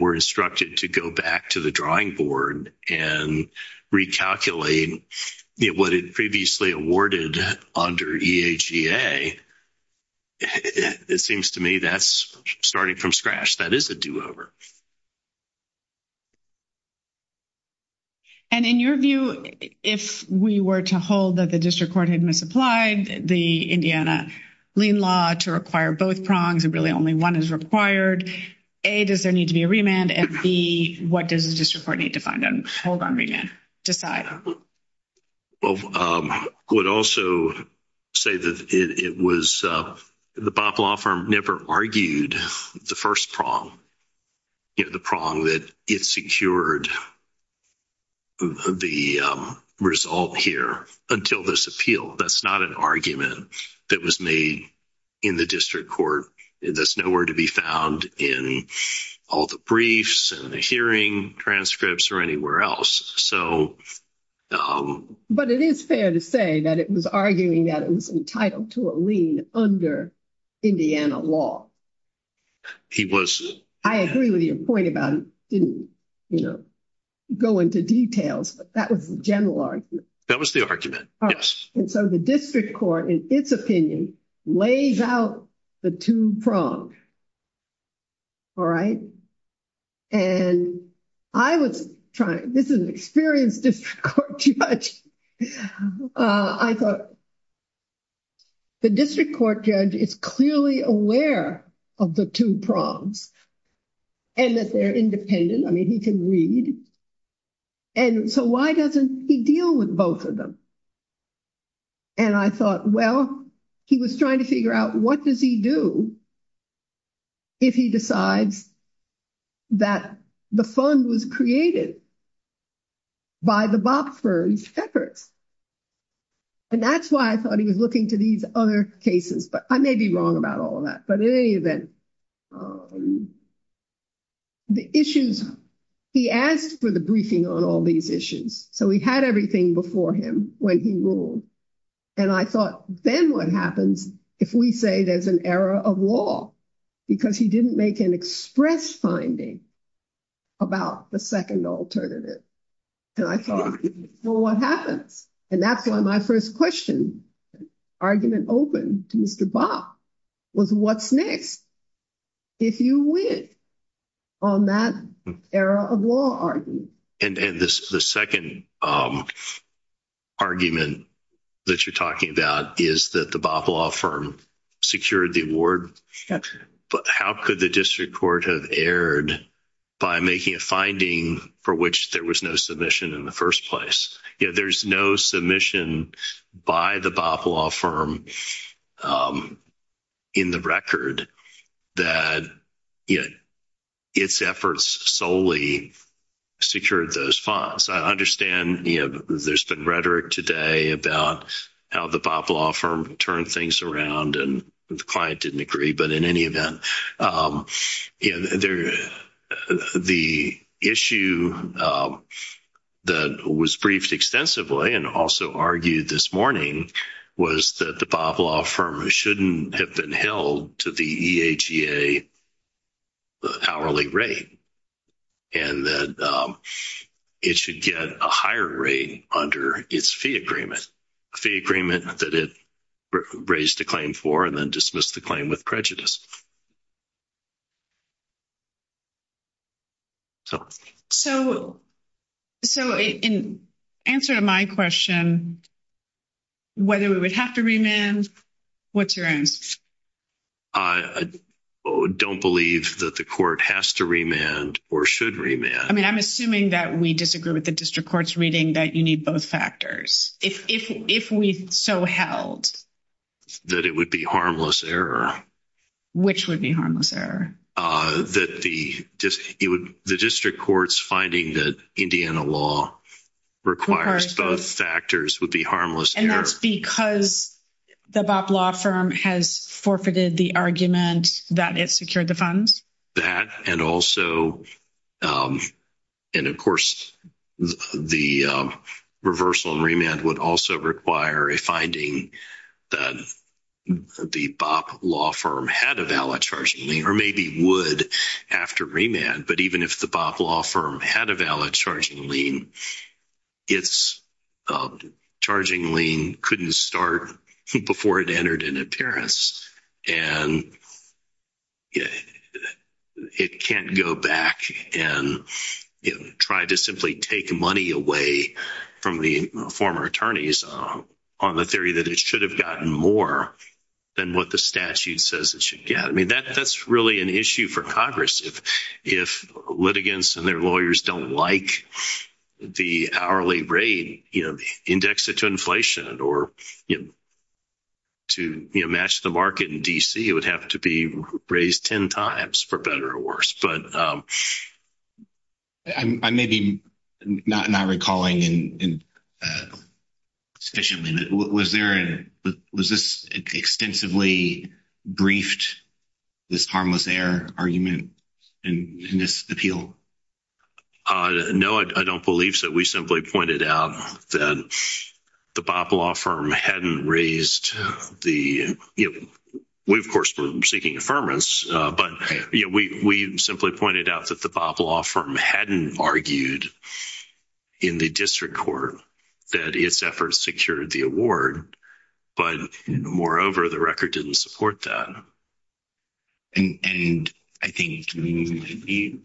were instructed to go back to the drawing board and recalculate what it previously awarded under EAGA, it seems to me that's starting from scratch. That is a do-over. And in your view, if we were to hold that the district court had misapplied the Indiana lien law to require both prongs, and really only one is required, A, does there need to be a remand, and B, what does the district court need to find and hold on remand, decide? I would also say that it was – the Bob Law Firm never argued the first prong, the prong that it secured the result here until this appeal. That's not an argument that was made in the district court. That's nowhere to be found in all the briefs and the hearing transcripts or anywhere else. But it is fair to say that it was arguing that it was entitled to a lien under Indiana law. He was – I agree with your point about it didn't go into details, but that was the general argument. That was the argument, yes. And so the district court, in its opinion, lays out the two prongs. All right? And I was trying – this is an experienced district court judge. I thought the district court judge is clearly aware of the two prongs and that they're independent. I mean, he can read. And so why doesn't he deal with both of them? And I thought, well, he was trying to figure out what does he do if he decides that the fund was created by the Bob Firm separate. And that's why I thought he was looking to these other cases. But I may be wrong about all of that. But in any event, the issues – he asked for the briefing on all these issues. So he had everything before him when he ruled. And I thought, then what happens if we say there's an error of law because he didn't make an express finding about the second alternative? And I thought, well, what happens? And that's why my first question, argument open to Mr. Bob, was what's next if you win on that error of law argument? And the second argument that you're talking about is that the Bob Law Firm secured the award. But how could the district court have erred by making a finding for which there was no submission in the first place? There's no submission by the Bob Law Firm in the record that its efforts solely secured those funds. I understand there's been rhetoric today about how the Bob Law Firm turned things around. And the client didn't agree. But in any event, the issue that was briefed extensively and also argued this morning was that the Bob Law Firm shouldn't have been held to the EHEA hourly rate. And that it should get a higher rate under its fee agreement. That it raised a claim for and then dismissed the claim with prejudice. So in answer to my question, whether we would have to remand, what's your answer? I don't believe that the court has to remand or should remand. I mean, I'm assuming that we disagree with the district court's reading that you need both factors. If we so held. That it would be harmless error. Which would be harmless error? That the district court's finding that Indiana law requires both factors would be harmless error. And that's because the Bob Law Firm has forfeited the argument that it secured the funds? That and also, and of course, the reversal and remand would also require a finding that the Bob Law Firm had a valid charging lien. Or maybe would after remand. But even if the Bob Law Firm had a valid charging lien, its charging lien couldn't start before it entered into Paris. And it can't go back and try to simply take money away from the former attorneys on the theory that it should have gotten more than what the statute says it should get. I mean, that's really an issue for Congress. If litigants and their lawyers don't like the hourly rate, index it to inflation or to match the market in D.C., it would have to be raised 10 times for better or worse. I may be not recalling sufficiently. Was this extensively briefed, this harmless error argument in this appeal? No, I don't believe so. We simply pointed out that the Bob Law Firm hadn't raised the – we, of course, were seeking affirmance. But we simply pointed out that the Bob Law Firm hadn't argued in the district court that its efforts secured the award. But moreover, the record didn't support that. And I think you might be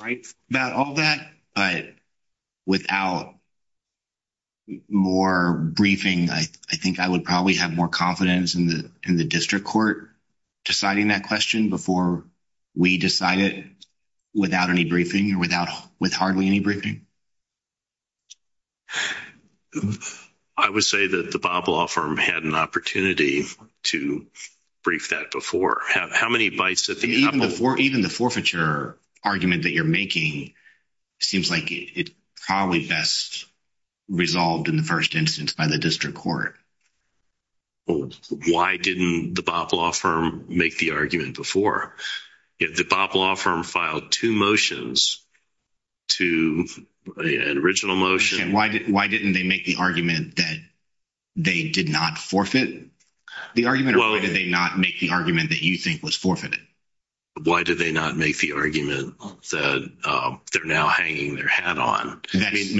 right about all that. But without more briefing, I think I would probably have more confidence in the district court deciding that question before we decided without any briefing or with hardly any briefing. I would say that the Bob Law Firm had an opportunity to brief that before. How many bites – Even the forfeiture argument that you're making seems like it's probably best resolved in the first instance by the district court. Why didn't the Bob Law Firm make the argument before? The Bob Law Firm filed two motions, an original motion. And why didn't they make the argument that they did not forfeit? The argument – or why did they not make the argument that you think was forfeited? Why did they not make the argument that they're now hanging their hat on? That is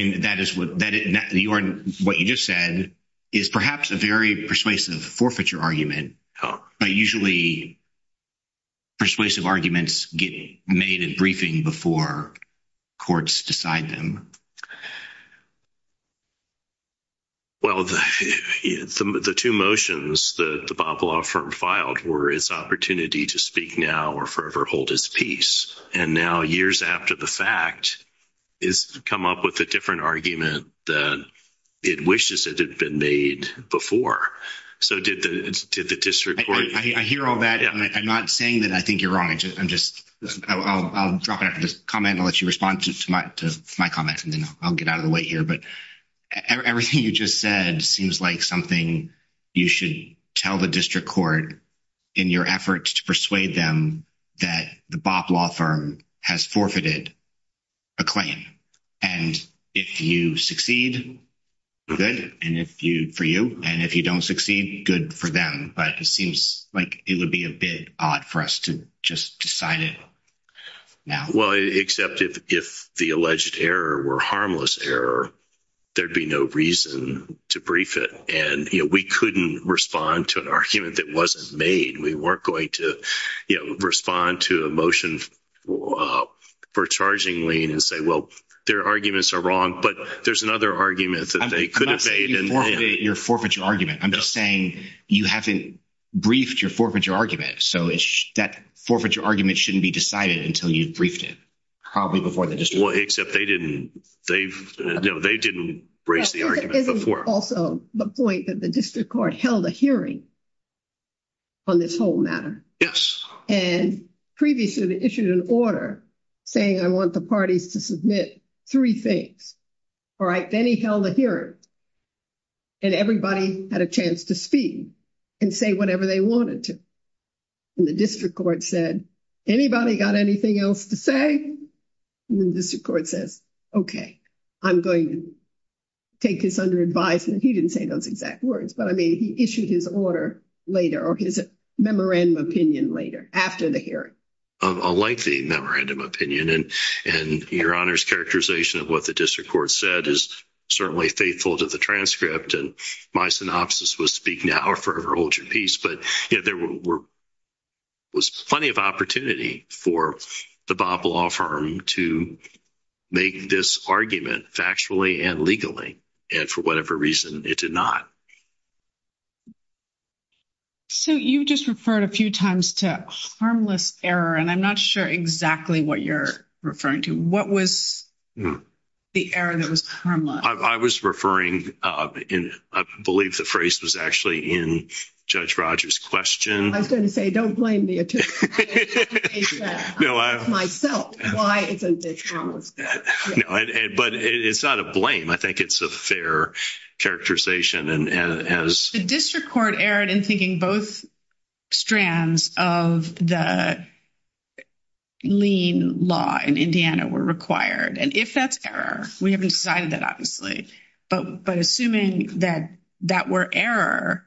– what you just said is perhaps a very persuasive forfeiture argument. But usually persuasive arguments get made in briefing before courts decide them. Well, the two motions that the Bob Law Firm filed were its opportunity to speak now or forever hold its peace. And now, years after the fact, it's come up with a different argument that it wishes it had been made before. So did the district court – I hear all that. I'm not saying that I think you're wrong. I'm just – I'll drop it. I'll just comment. I'll let you respond to my comment, and then I'll get out of the way here. But everything you just said seems like something you should tell the district court in your efforts to persuade them that the Bob Law Firm has forfeited a claim. And if you succeed, good, and if you – for you, and if you don't succeed, good for them. But it seems like it would be a bit odd for us to just decide it now. Well, except if the alleged error were harmless error, there'd be no reason to brief it. And, you know, we couldn't respond to an argument that wasn't made. We weren't going to, you know, respond to a motion for charging lien and say, well, their arguments are wrong. But there's another argument that they could have made. I'm not saying you forfeited your forfeiture argument. I'm just saying you haven't briefed your forfeiture argument. So that forfeiture argument shouldn't be decided until you've briefed it probably before the district court. Well, except they didn't. They didn't raise the argument before. There's also the point that the district court held a hearing on this whole matter. And previously they issued an order saying I want the parties to submit three things. All right, then he held a hearing, and everybody had a chance to speak and say whatever they wanted to. And the district court said, anybody got anything else to say? And the district court said, okay, I'm going to take this under advice. And he didn't say those exact words. But, I mean, he issued his order later or his memorandum opinion later after the hearing. Unlikely memorandum opinion. And your Honor's characterization of what the district court said is certainly faithful to the transcript. And my synopsis was speak now or forever hold your peace. But there was plenty of opportunity for the Bob Law Firm to make this argument factually and legally. And for whatever reason, it did not. So you just referred a few times to a harmless error. And I'm not sure exactly what you're referring to. What was the error that was harmless? I was referring, I believe the phrase was actually in Judge Rogers' question. I was going to say, don't blame the attorney. Myself. Why isn't this harmless? But it's not a blame. I think it's a fair characterization. The district court erred in thinking both strands of the lien law in Indiana were required. And if that's error, we haven't decided that obviously. But assuming that that were error,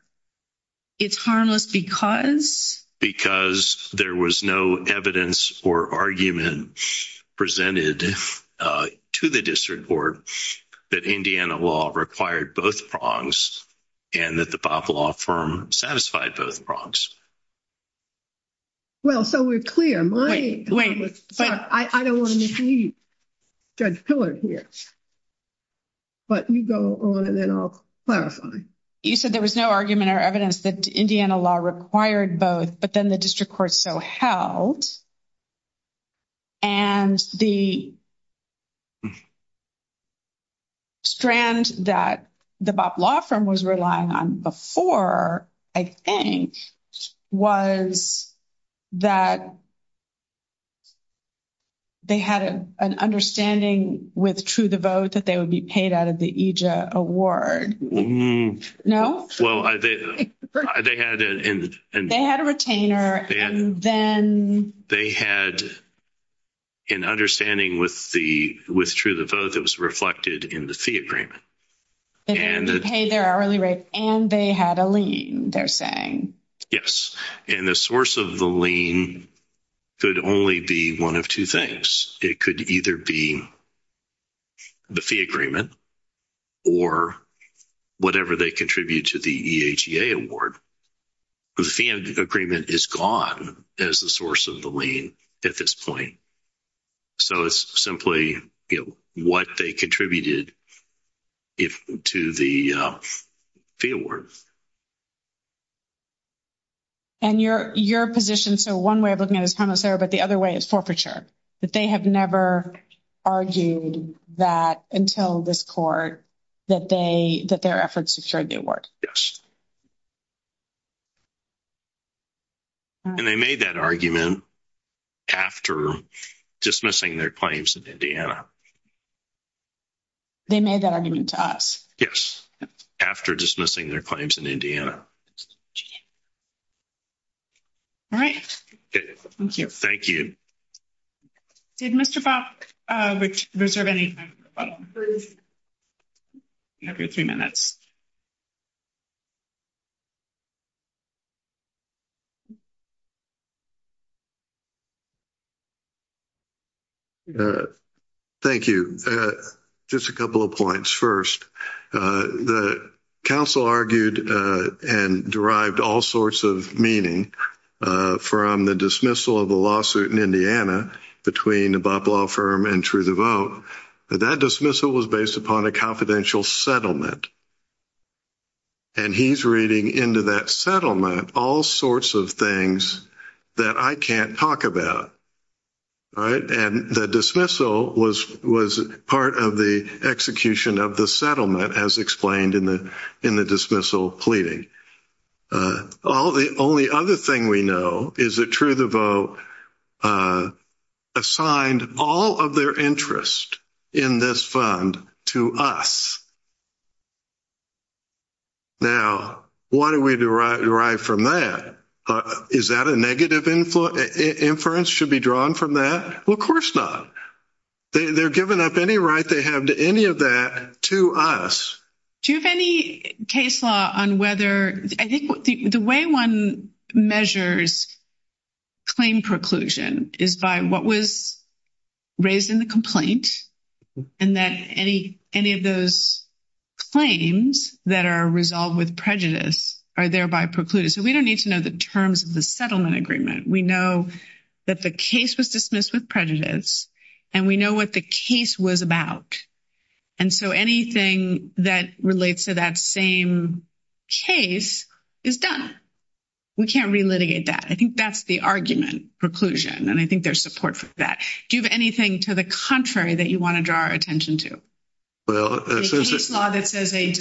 it's harmless because? Because there was no evidence or argument presented to the district court that Indiana law required both prongs. And that the Bob Law Firm satisfied both prongs. Well, so we're clear. But I don't want to deceive Judge Pillard here. But you go on and then I'll clarify. You said there was no argument or evidence that Indiana law required both, but then the district court so held. And the strand that the Bob Law Firm was relying on before, I think, was that they had an understanding with True the Vote that they would be paid out of the EJA award. No? They had a retainer and then? They had an understanding with True the Vote that was reflected in the fee agreement. They had to pay their early rates and they had a lien, they're saying. Yes. And the source of the lien could only be one of two things. It could either be the fee agreement or whatever they contribute to the EJA award. The fee agreement is gone as the source of the lien at this point. So it's simply what they contributed to the fee award. And your position, so one way of looking at it is timeless error, but the other way is forfeiture. That they have never argued that until this court that their efforts destroyed the award. Yes. And they made that argument after dismissing their claims in Indiana. They made that argument to us? Yes. After dismissing their claims in Indiana. All right. Thank you. Thank you. Did Mr. Bach reserve any time for questions? You have your three minutes. Thank you. Just a couple of points. First, the counsel argued and derived all sorts of meaning from the dismissal of the lawsuit in Indiana between the Bob Law Firm and True the Vote. That dismissal was based upon a confidential settlement. And he's reading into that settlement all sorts of things that I can't talk about. All right. And the dismissal was part of the execution of the settlement as explained in the dismissal pleading. The only other thing we know is that True the Vote assigned all of their interest in this fund to us. Now, why do we derive from that? Is that a negative inference should be drawn from that? Well, of course not. They're giving up any right they have to any of that to us. Do you have any case law on whether – I think the way one measures claim preclusion is by what was raised in the complaint, and that any of those claims that are resolved with prejudice are thereby precluded. So we don't need to know the terms of the settlement agreement. We know that the case was dismissed with prejudice, and we know what the case was about. And so anything that relates to that same case is done. We can't relitigate that. I think that's the argument, preclusion, and I think there's support for that. Do you have anything to the contrary that you want to draw our attention to? The case law that says a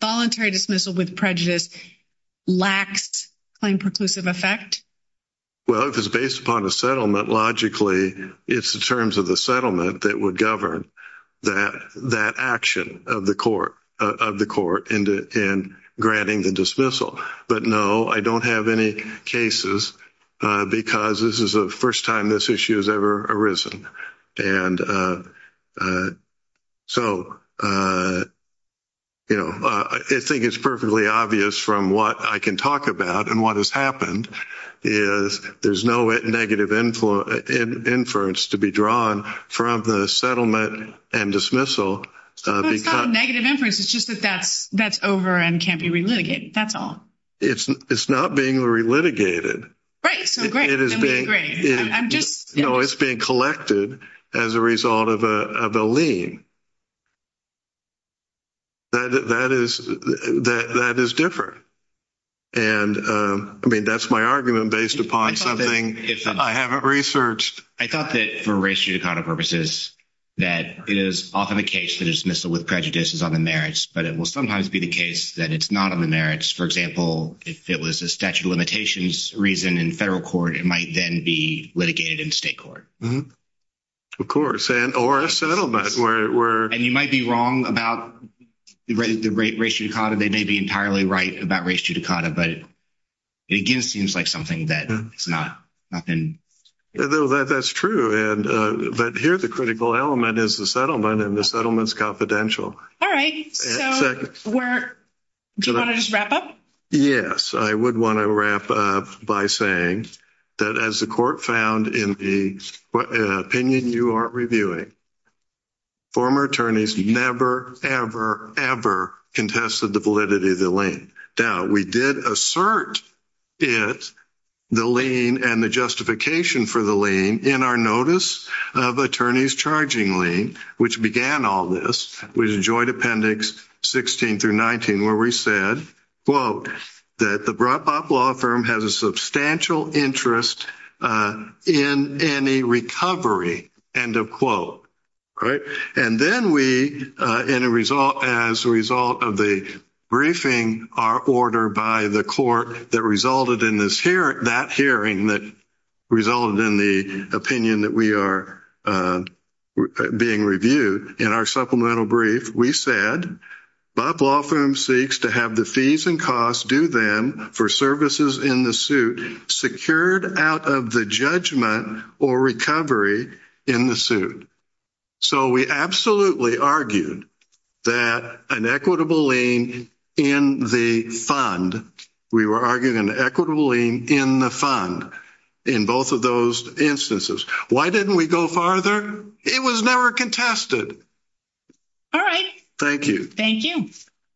voluntary dismissal with prejudice lacks claim preclusive effect? Well, if it's based upon a settlement, logically it's the terms of the settlement that would govern that action of the court in granting the dismissal. But no, I don't have any cases because this is the first time this issue has ever arisen. So, you know, I think it's perfectly obvious from what I can talk about and what has happened is there's no negative inference to be drawn from the settlement and dismissal. Well, it's not a negative inference. It's just that that's over and can't be relitigated. That's all. It's not being relitigated. Right. So great. We agree. No, it's being collected as a result of a lien. That is different. And, I mean, that's my argument based upon something I haven't researched. I thought that for race judicata purposes, that is often a case that is dismissed with prejudices on the merits, but it will sometimes be the case that it's not on the merits. For example, if it was a statute of limitations reason in federal court, it might then be litigated in state court. Of course, or a settlement. And you might be wrong about the race judicata. They may be entirely right about race judicata, but it again seems like something that's not. That's true. And here's a critical element is the settlement and the settlements confidential. All right. Do you want to just wrap up? Yes, I would want to wrap up by saying that as the court found in the opinion you are reviewing, former attorneys never, ever, ever contested the validity of the lien. Now, we did assert it, the lien, and the justification for the lien in our notice of attorneys charging lien, which began all this. We enjoyed appendix 16 through 19, where we said, quote, that the brought up law firm has a substantial interest in any recovery, end of quote. And then we, as a result of the briefing order by the court that resulted in that hearing that resulted in the opinion that we are being reviewed, in our supplemental brief, we said, My law firm seeks to have the fees and costs due then for services in the suit secured out of the judgment or recovery in the suit. So we absolutely argued that an equitable lien in the fund, we were arguing an equitable lien in the fund in both of those instances. Why didn't we go farther? It was never contested. All right. Thank you.